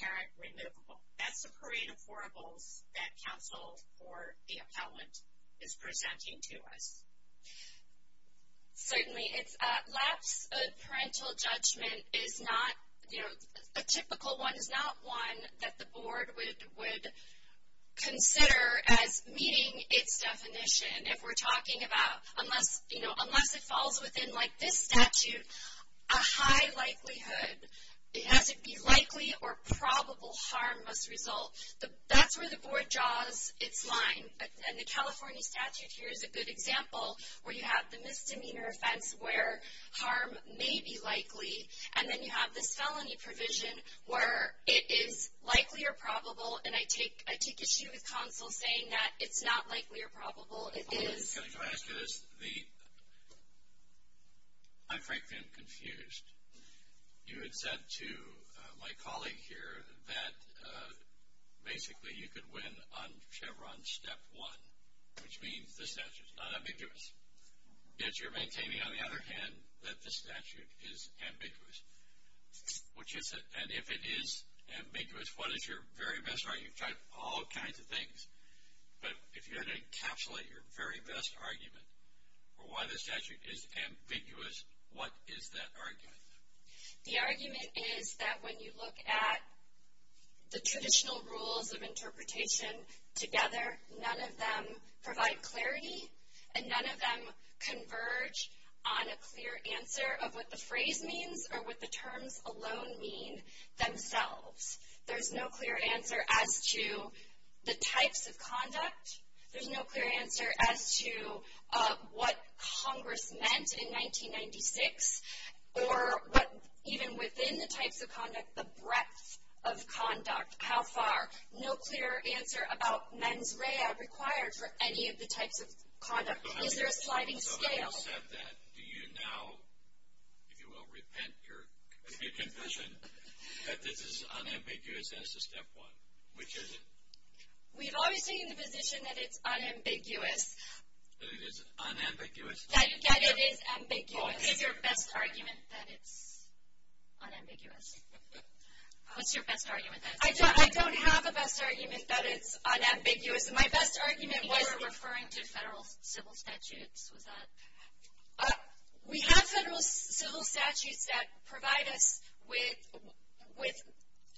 parent removable. That's a creative oracle that counsel or the appellant is presenting to us. Certainly. A lapse of parental judgment is not, you know, a typical one, is not one that the board would consider as meeting its definition. If we're talking about a month that falls within, like, this statute, a high likelihood, it has to be likely or probable harmless result. That's where the board draws its line. And the California statute here is a good example where you have the misdemeanor offense where harm may be likely. And then you have the felony provision where it is likely or probable, and I keep issuing counsel saying that it's not likely or probable, it is. Can I ask you this? I'm frankly confused. You had said to my colleague here that basically you could win on Chevron step one, which means the statute is not ambiguous. Yet you're maintaining, on the other hand, that the statute is ambiguous. And if it is ambiguous, what is your very best argument? You've tried all kinds of things. But if you're going to encapsulate your very best argument for why the statute is ambiguous, what is that argument? The argument is that when you look at the traditional rules of interpretation together, none of them provide clarity, and none of them converge on a clear answer of what the phrase means or what the terms alone mean themselves. There's no clear answer as to the types of conduct. There's no clear answer as to what Congress meant in 1996, or even within the types of conduct, the breadth of conduct, how far. No clear answer about mens rea required for any of the types of conduct. Those are sliding scales. So having said that, do you now, if you will repent your conviction, that this is unambiguous as to step one? Which is it? We've always taken the position that it's unambiguous. That it is unambiguous. That it is ambiguous. What is your best argument that it's unambiguous? What's your best argument? I don't have a best argument that it's unambiguous. My best argument was referring to federal civil statutes. We have federal civil statutes that provide us with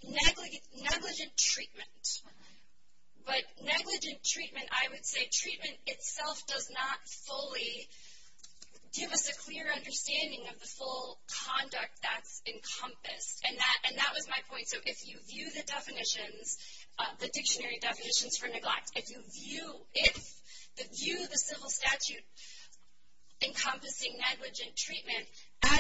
negligent treatment. But negligent treatment, I would say, treatment itself does not fully give us a clear understanding of the full conduct that's encompassed. And that was my point. So if you view the definitions, the dictionary definitions for neglect, if you view the civil statutes encompassing negligent treatment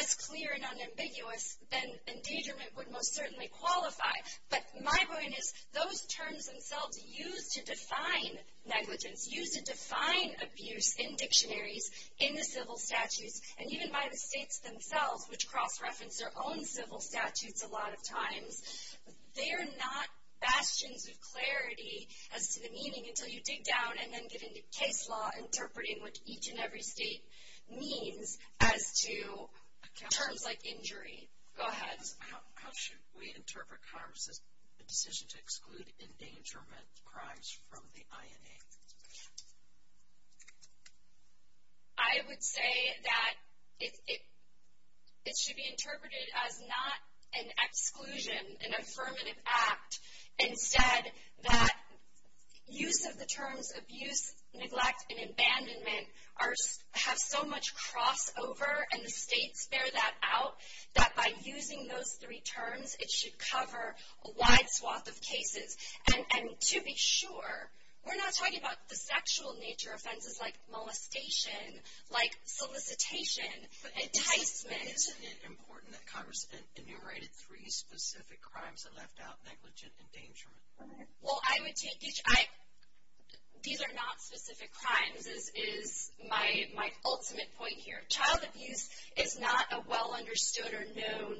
as clear and unambiguous, then endangerment would most certainly qualify. But my point is those terms themselves used to define negligence, used to define abuse in dictionaries in the civil statutes, and even by the states themselves, which cross-reference their own civil statutes a lot of times, they are not bastioned with clarity as to the meaning until you dig down and then get into Ted's law interpreting what each and every state means as to terms like injury. Go ahead. How should we interpret Congress' decision to exclude endangerment crimes from the INA? I would say that it should be interpreted as not an exclusion, an affirmative act, instead that use of the terms abuse, neglect, and abandonment have so much crossover, and the states bear that out, that by using those three terms, it should cover a wide swath of cases. And to be sure, we're not talking about the sexual nature offenses like molestation, like solicitation, enticement. Isn't it important that Congress enumerated three specific crimes that left out negligent endangerment? Well, these are not specific crimes, is my ultimate point here. Child abuse is not a well-understood or known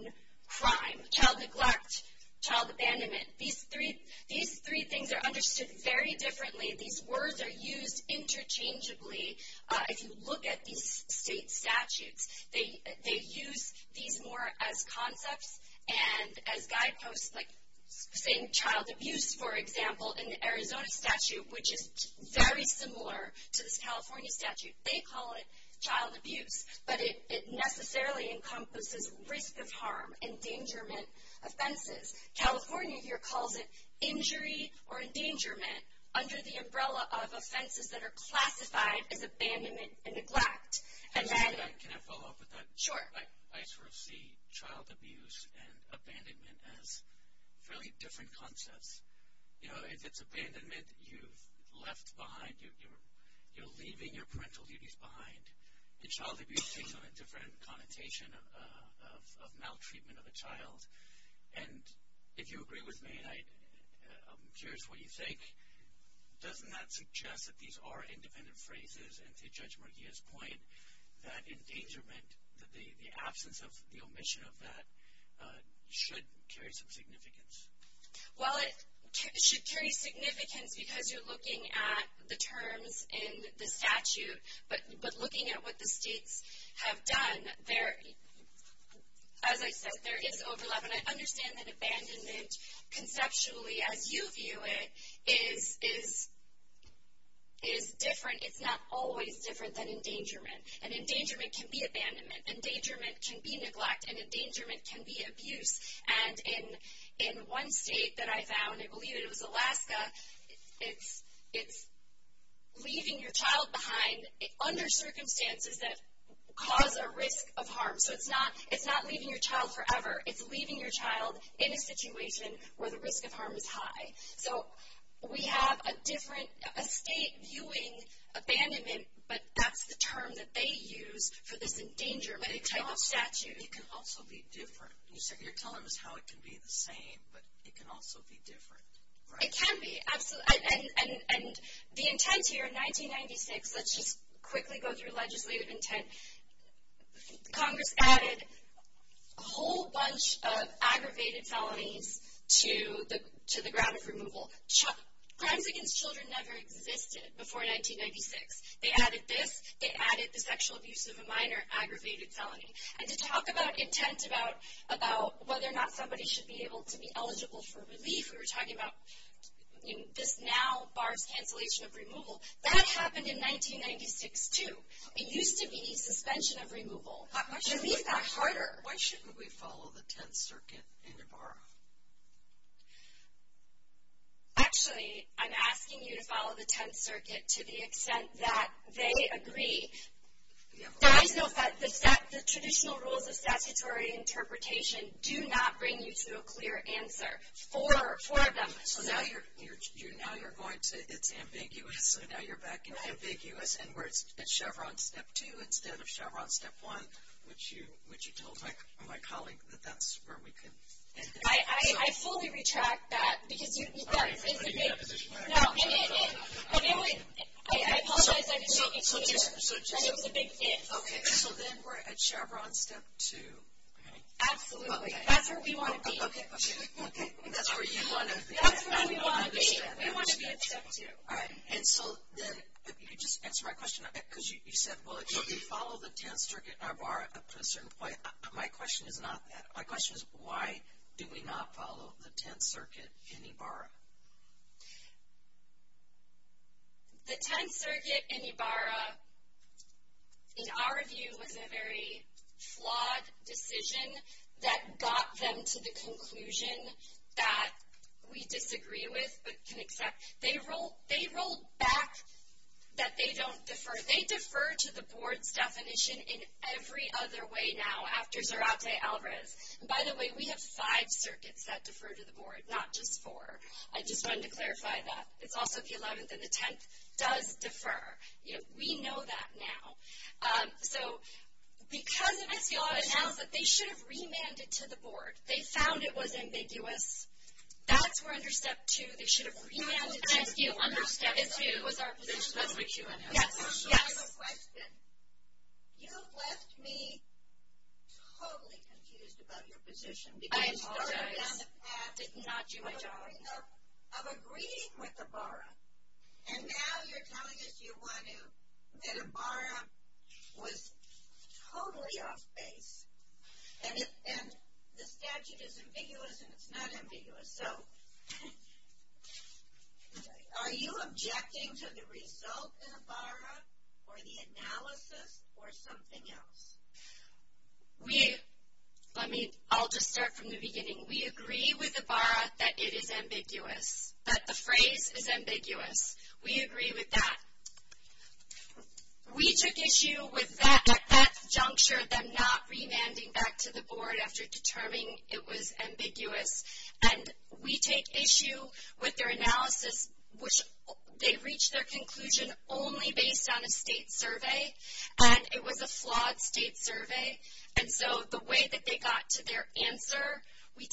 crime. Child neglect, child abandonment, these three things are understood very differently. These words are used interchangeably. If you look at these state statutes, they use these more as concepts and as guideposts, like saying child abuse, for example, in the Arizona statute, which is very similar to the California statute. They call it child abuse, but it necessarily encompasses risk of harm, endangerment, offenses. California here calls it injury or endangerment, under the umbrella of offenses that are classified as abandonment and neglect. Can I follow up with that? Sure. I sort of see child abuse and abandonment as fairly different concepts. It's abandonment, you're left behind, you're leaving your parental duties behind. Child abuse takes on a different connotation of maltreatment of a child. And if you agree with me, I'm curious what you think. Doesn't that suggest that these are independent phrases? And to Judge Morgia's point, that endangerment, the absence of the omission of that, should carry some significance. Well, it should carry significance because you're looking at the terms in the statute, but looking at what the states have done, as I said, there is overlap. And I understand that abandonment, conceptually, as you view it, is different. It's not always different than endangerment. And endangerment can be abandonment. Endangerment can be neglect. And endangerment can be abuse. And in one state that I found, I believe it was Alaska, it's leaving your child behind under circumstances that cause a risk of harm. So it's not leaving your child forever. It's leaving your child in a situation where the risk of harm is high. So we have a different state viewing abandonment, but that's the term that they use for this endangerment. It can also be different. You said you're telling us how it can be the same, but it can also be different. It can be. And the intent here in 1996, let's just quickly go through legislative intent. Congress added a whole bunch of aggravated felonies to the grounds of removal. Crimes against children never existed before 1996. They added this. They added the sexual abuse of a minor aggravated felony. And to talk about intent, about whether or not somebody should be able to be eligible for relief, we were talking about this now barred cancellation of removal. That happened in 1996 too. It used to be suspension of removal. It should be a lot harder. Why shouldn't we follow the 10th Circuit and borrow? Actually, I'm asking you to follow the 10th Circuit to the extent that they agree. I know that the traditional rules of statutory interpretation do not bring you to a clear answer. Four of them. So now you're going to it's ambiguous, so now you're back in ambiguous, and we're at Chevron Step 2 instead of Chevron Step 1, which you told my colleague that that's where we can end up. I fully retract that because you said it's ambiguous. No, it is. I apologize. I didn't mean to get you there. That was a big hint. Okay. So then we're at Chevron Step 2. Absolutely. That's where we want to be. That's where you want to be. That's where we want to be. We want to be at Step 2. All right. And so then if you could just answer my question, because you said, well, if you follow the 10th Circuit and borrow, my question is not that. Do you not follow the 10th Circuit and borrow? The 10th Circuit and borrow, in our view, was a very flawed decision that got them to the conclusion that we disagree with but can accept. They rolled back that they don't defer. They defer to the Board's definition in every other way now after Zarate Alvarez. By the way, we have five circuits that defer to the Board, not just four. I just wanted to clarify that. It's also if you look at the 10th, it does defer. We know that now. So because of it, you ought to know that they should have remanded it to the Board. They found it was ambiguous. That's where under Step 2 they should have remanded it. Yes, yes. I have a question. You have left me totally confused about your position. I'm sorry. I'm agreeing with the borrow. And now you're telling us you want to. The borrow was totally off-base. And the statute is ambiguous and it's not ambiguous. So are you objecting to the result in the borrow or the analysis or something else? I'll just start from the beginning. We agree with the borrow that it is ambiguous, that the phrase is ambiguous. We agree with that. We took issue with that juncture, which was for them not remanding back to the Board after determining it was ambiguous. And we take issue with their analysis, which they reached their conclusion only based on a state survey, and it was a flawed state survey. And so the way that they got to their answer, we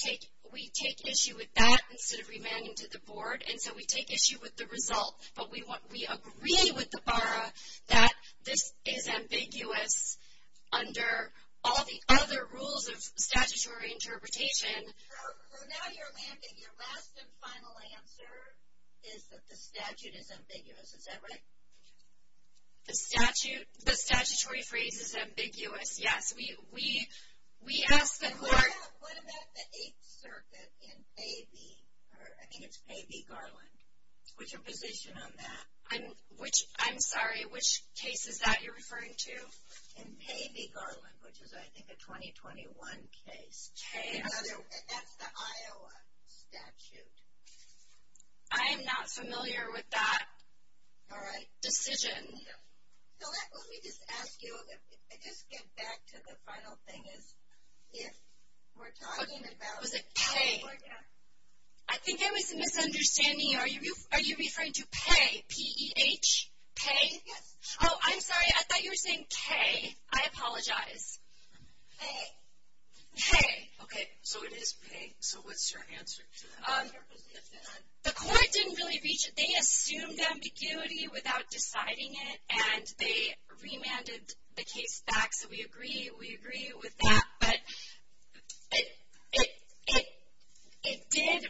take issue with that instead of remanding to the Board. And so we take issue with the results. But we agree with the borrow that it is ambiguous under all the other rules of statutory interpretation. So now you're lamping. Your last and final answer is that the statute is ambiguous. Is that right? The statutory phrase is ambiguous. Yes. We asked the Board. What about the eighth circuit in KB Garland, with your position on that? I'm sorry, which case is that you're referring to? In KB Garland, which is, I think, a 2021 case. That's the Iowa statute. I am not familiar with that decision. So let me just ask you, just get back to the final thing is if we're talking about California. I think I was misunderstanding. Are you referring to PEH, P-E-H? PEH? Oh, I'm sorry. I thought you were saying K. I apologize. K. K. Okay. So it is K. So what's your answer to that? The court didn't really reach it. They assumed ambiguity without deciding it, and they remanded the case back. So we agree with that. But it did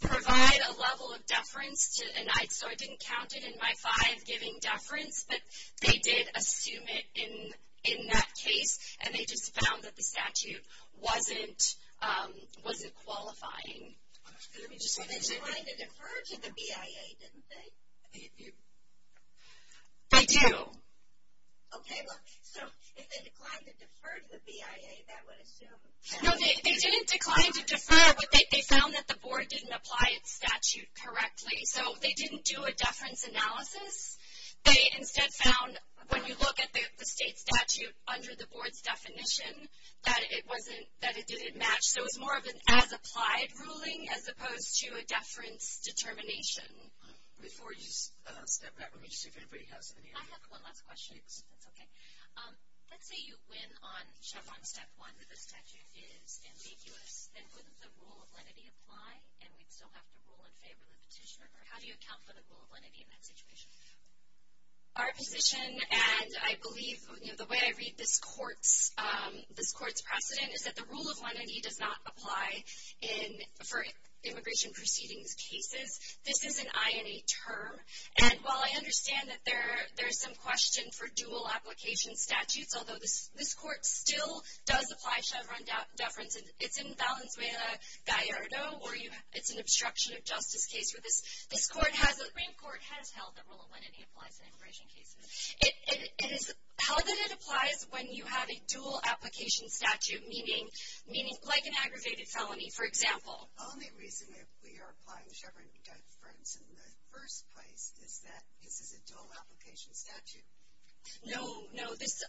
provide a level of deference, and I didn't count it in my five giving deference, but they did assume it in that case, and they just found that the statute wasn't qualifying. They deferred to the BIA, didn't they? They do. Okay. So if they declined and deferred to the BIA, that would assume. No, they didn't decline and defer. They found that the board didn't apply its statute correctly, so they didn't do a deference analysis. They instead found when you look at the state statute under the board's definition that it didn't match. So it's more of an as-applied ruling as opposed to a deference determination. I have one last question. Okay. Let's say you win on step one, that the statute is ambiguous and the rule of lenity apply, and we still have to rule in favor of the petitioner. How do you account for the rule of lenity in that situation? Our position, and I believe the way I read this court's precedent, is that the rule of lenity does not apply for immigration proceedings cases. This is an INA term. And while I understand that there is some question for dual application statutes, although this court still does apply Chevron deferences, it's in balance with a Gallardo, or it's an obstruction of justice case. This court has held the rule of lenity applies to immigration cases. How did it apply when you have a dual application statute, meaning like an aggravated felony, for example? The only reason that we are applying Chevron deference in the first place is that this is a dual application statute. No, no. This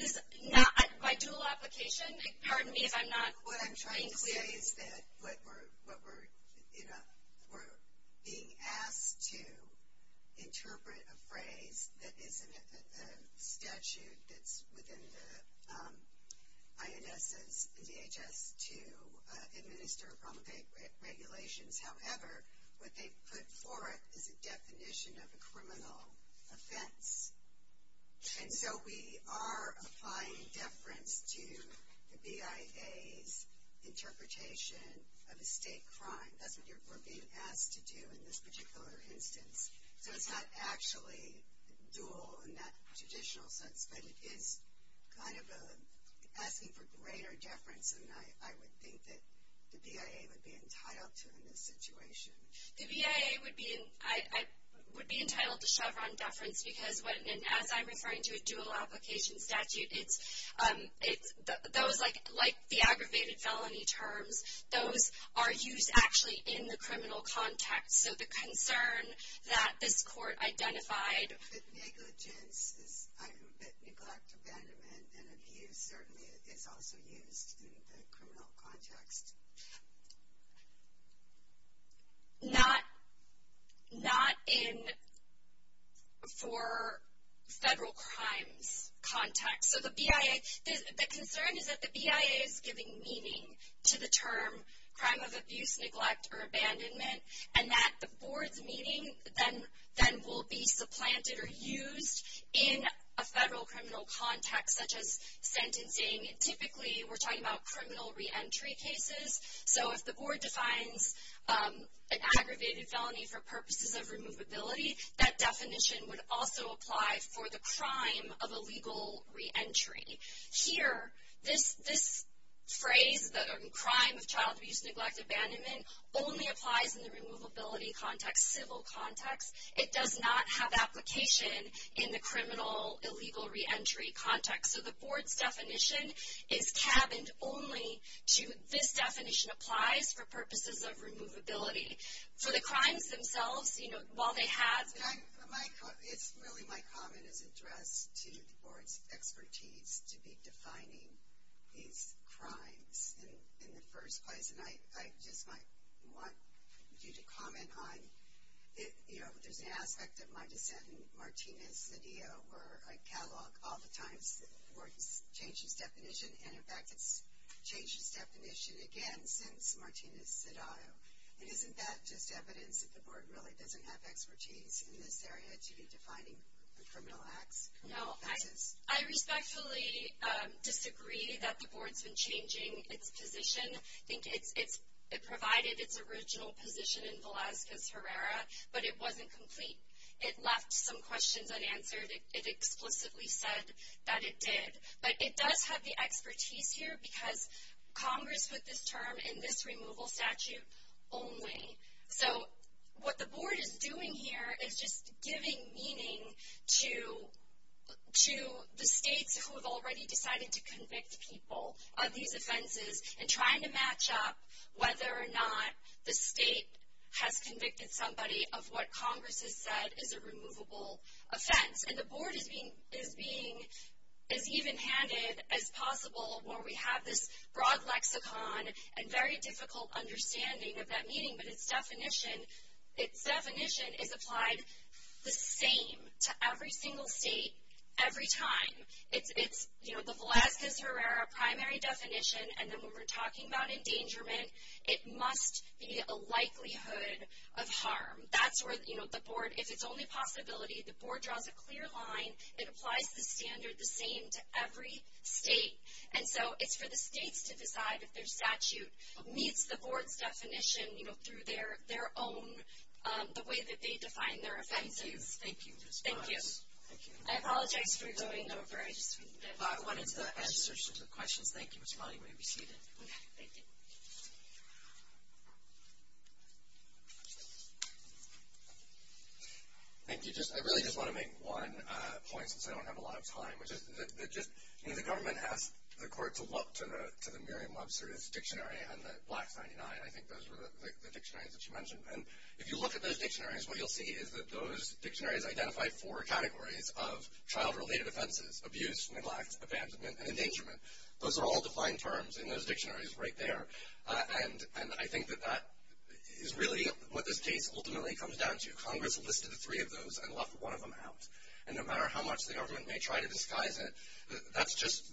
is not my dual application. Pardon me if I'm not clear. What I'm trying to say is that we're being asked to interpret a phrase that statute that's within the INS and DHS to administer or promulgate regulations. However, what they put forth is a definition of a criminal offense. And so we are applying deference to the BIA's interpretation of a state crime. That's what you're being asked to do in this particular instance. So it's not actually dual in that traditional sense, but it is kind of asking for greater deference, and I would think that the BIA would be entitled to in this situation. The BIA would be entitled to Chevron deference, because as I'm referring to a dual application statute, like the aggravated felony terms, those are used actually in the criminal context. So the concern that this court identified is negligence, neglect, abandonment, and abuse certainly is also used in the criminal context. Not in for federal crimes context. So the concern is that the BIA is giving meaning to the term crime of abuse, neglect, or abandonment, and that the board's meaning then will be supplanted or used in a federal criminal context such as sentencing. Typically we're talking about criminal reentry cases. So if the board defines an aggravated felony for purposes of removability, that definition would also apply for the crime of illegal reentry. Here, this phrase, the crime of child abuse, neglect, abandonment only applies in the removability context, civil context. It does not have application in the criminal illegal reentry context. So the board's definition is cabined only to this definition applies for purposes of removability. For the crimes themselves, you know, while they have that. My comment is addressed to the board's expertise to be defining these crimes in the first place. And I just want you to comment on, you know, does the aspect of my defendant, Martina Cedillo, where I catalog all the times that the board changed its definition, and in fact it's changed its definition again since Martina Cedillo. And isn't that just evidence that the board really doesn't have expertise in this area to be defining the criminal acts? No. I respectfully disagree that the board's been changing its position. I think it provided its original position in the law since Herrera, but it wasn't complete. It left some questions unanswered. It explicitly said that it did. But it does have the expertise here because Congress put this term in this removal statute only. So what the board is doing here is just giving meaning to the states who have already decided to convict people of these offenses and trying to match up whether or not the state has convicted somebody of what Congress has said is a removable offense. And the board is being as even-handed as possible where we have this broad lexicon and very difficult understanding of that meaning. But its definition is applied the same to every single state, every time. It's, you know, the Black v. Herrera primary definition, and then when we're talking about endangerment, it must be a likelihood of harm. That's where, you know, the board, if it's only a possibility, the board draws a clear line. It applies to standards the same to every state. And so it's for the state to decide if their statute meets the board's definition, you know, through their own, the way that they define their offense. Thank you. Thank you. I apologize for voting over one of the questions. Thank you for responding. We repeat it. Thank you. Thank you. I really just want to make one point because I don't have a lot of time. The government has the court to look to the Merriam-Webster dictionary and the Black 99. I think those were the dictionaries that you mentioned. And if you look at those dictionaries, what you'll see is that those dictionaries identify four categories of child related offenses, abuse, neglect, abandonment, and endangerment. Those are all defined terms in those dictionaries right there. And I think that that is really what the state ultimately comes down to. Congress listed three of those and left one of them out. And no matter how much the government may try to disguise it, that's just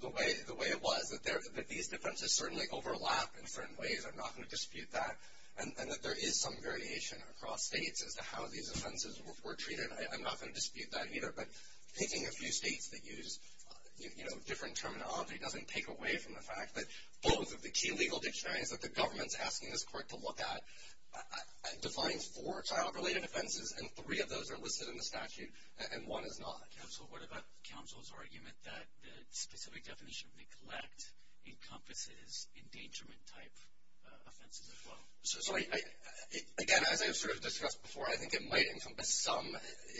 the way it was, that these defenses certainly overlap in certain ways. I'm not going to dispute that. And that there is some variation across states as to how these offenses were treated. I'm not going to dispute that either. But taking a few states that use, you know, different terminology doesn't take away from the fact that both of the key legal dictionaries that the government is asking this court to look at defines four child related offenses, and three of those are listed in the statute. And one is not. Counsel, what about counsel's argument that the specific definition of neglect encompasses endangerment type offenses as well? Sorry. Again, as I've sort of discussed before, I think it might encompass some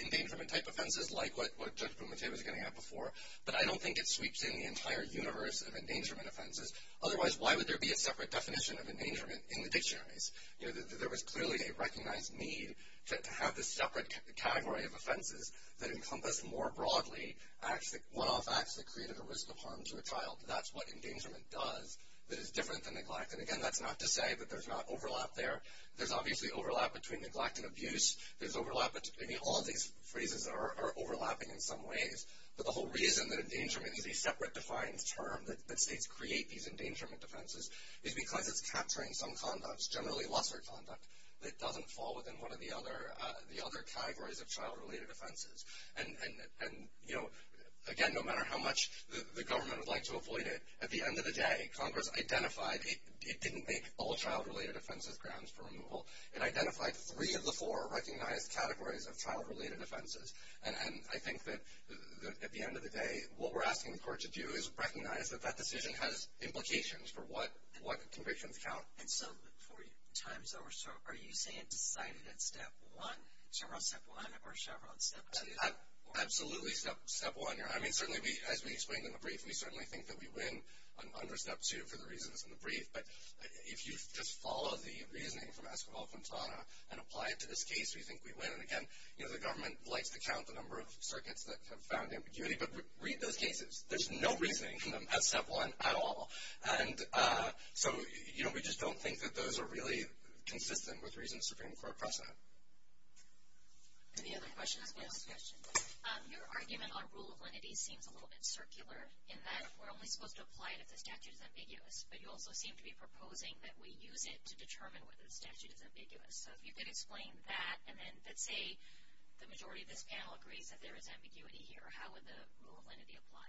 endangerment type offenses, like what Judge Bruma said was going to have before. But I don't think it sweeps in the entire universe of endangerment offenses. Otherwise, why would there be a separate definition of endangerment in the dictionaries? You know, there was clearly a recognized need to have this separate category of offenses that encompass more broadly one-off acts that created a risk of harm to a child. That's what endangerment does. But it's different than neglect. And, again, that's not to say that there's not overlap there. There's obviously overlap between neglect and abuse. There's overlap between all these phrases that are overlapping in some ways. But the whole reason that endangerment is a separate defined term that states create these endangerment offenses is because it's capturing some conducts, generally lesser conduct, that doesn't fall within one of the other categories of child related offenses. And, again, no matter how much the government would like to avoid it, at the end of the day, Congress identified it didn't make all child related offenses grounds for removal. It identified three of the four recognized categories of child related offenses. And I think that at the end of the day, what we're asking the court to do is recognize that that decision has implications for what convictions count. And so, Victoria, time's over. So are you saying it's decided in step one, Chevron step one, or Chevron step two? Absolutely step one. I mean, certainly as we explained in the brief, we certainly think that we win under step two for the reasons in the brief. But if you just follow the reasoning from Esquivel and Fontana and apply it to this case, we think we win. And, again, the government likes to count the number of circuits that have found ambiguity, but read those cases. There's no reasoning from them at step one at all. And so we just don't think that those are really consistent with the rules. Any other questions? I have a question. Your argument on rule of lenity seems a little bit circular in that we're only supposed to apply it if the statute is ambiguous. But you also seem to be proposing that we use it to determine whether the statute is ambiguous. So if you could explain that, and then say the majority of this panel agrees that there is ambiguity here, how would the rule of lenity apply?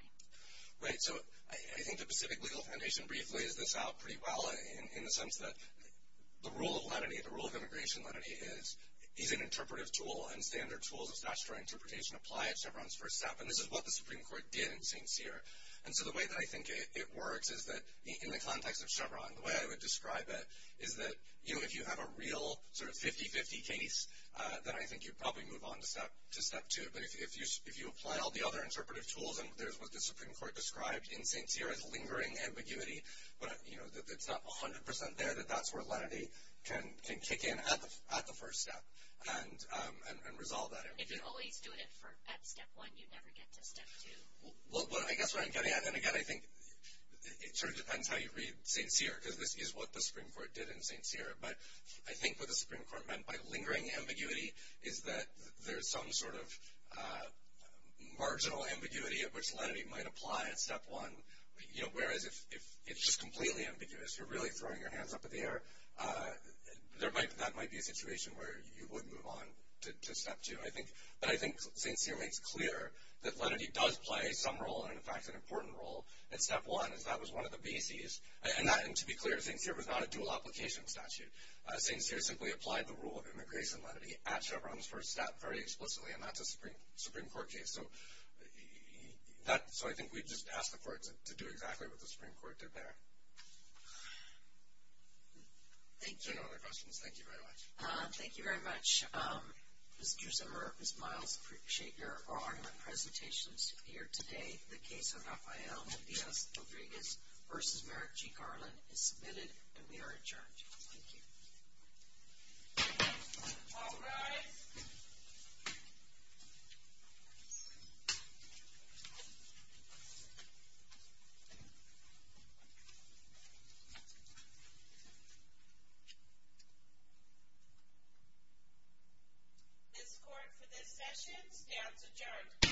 Right. So I think the Pacific Legal Foundation briefly lays this out pretty well in the sense that the rule of lenity, the definition of what a rule of lenity is, is an interpretive tool and standard tool. The statutory interpretation applies to everyone's first step. And this is what the Supreme Court did in St. Cyr. And so the way that I think it works is that in the context of Chevron, the way I would describe it is that, you know, if you have a real sort of 50-50 case, then I think you probably move on to step two. But if you apply all the other interpretive tools, then there's what the Supreme Court described in St. Cyr as lingering ambiguity. But, you know, if it's not 100% there, then that's where lenity can kick in at the first step and resolve that. If you only do it at step one, you never get to step two. Well, I guess what I'm getting at, and again, I think it sort of depends on how you read St. Cyr, because this is what the Supreme Court did in St. Cyr. But I think what the Supreme Court meant by lingering ambiguity is that there's some sort of marginal ambiguity of which lenity might apply at step one. You know, whereas if it's just completely ambiguous, you're really throwing your hands up in the air, that might be a situation where you would move on to step two. But I think St. Cyr makes clear that lenity does play some role and, in fact, an important role at step one, and that was one of the bases. And to be clear, St. Cyr was not a dual-application statute. St. Cyr simply applied the rule of immigration lenity at Chevron's first step very explicitly, and that's a Supreme Court case. So I think we've just asked the courts to do exactly what the Supreme Courts did there. Is there no other questions? Thank you very much. Thank you very much. Ms. Duesenberg and Ms. Miles, I appreciate your on-line presentations here today for the case of Raphael Medeiros-Tobregan versus Merrick G. Garland. It's submitted and we are adjourned. Thank you. All rise. This court for this session has adjourned.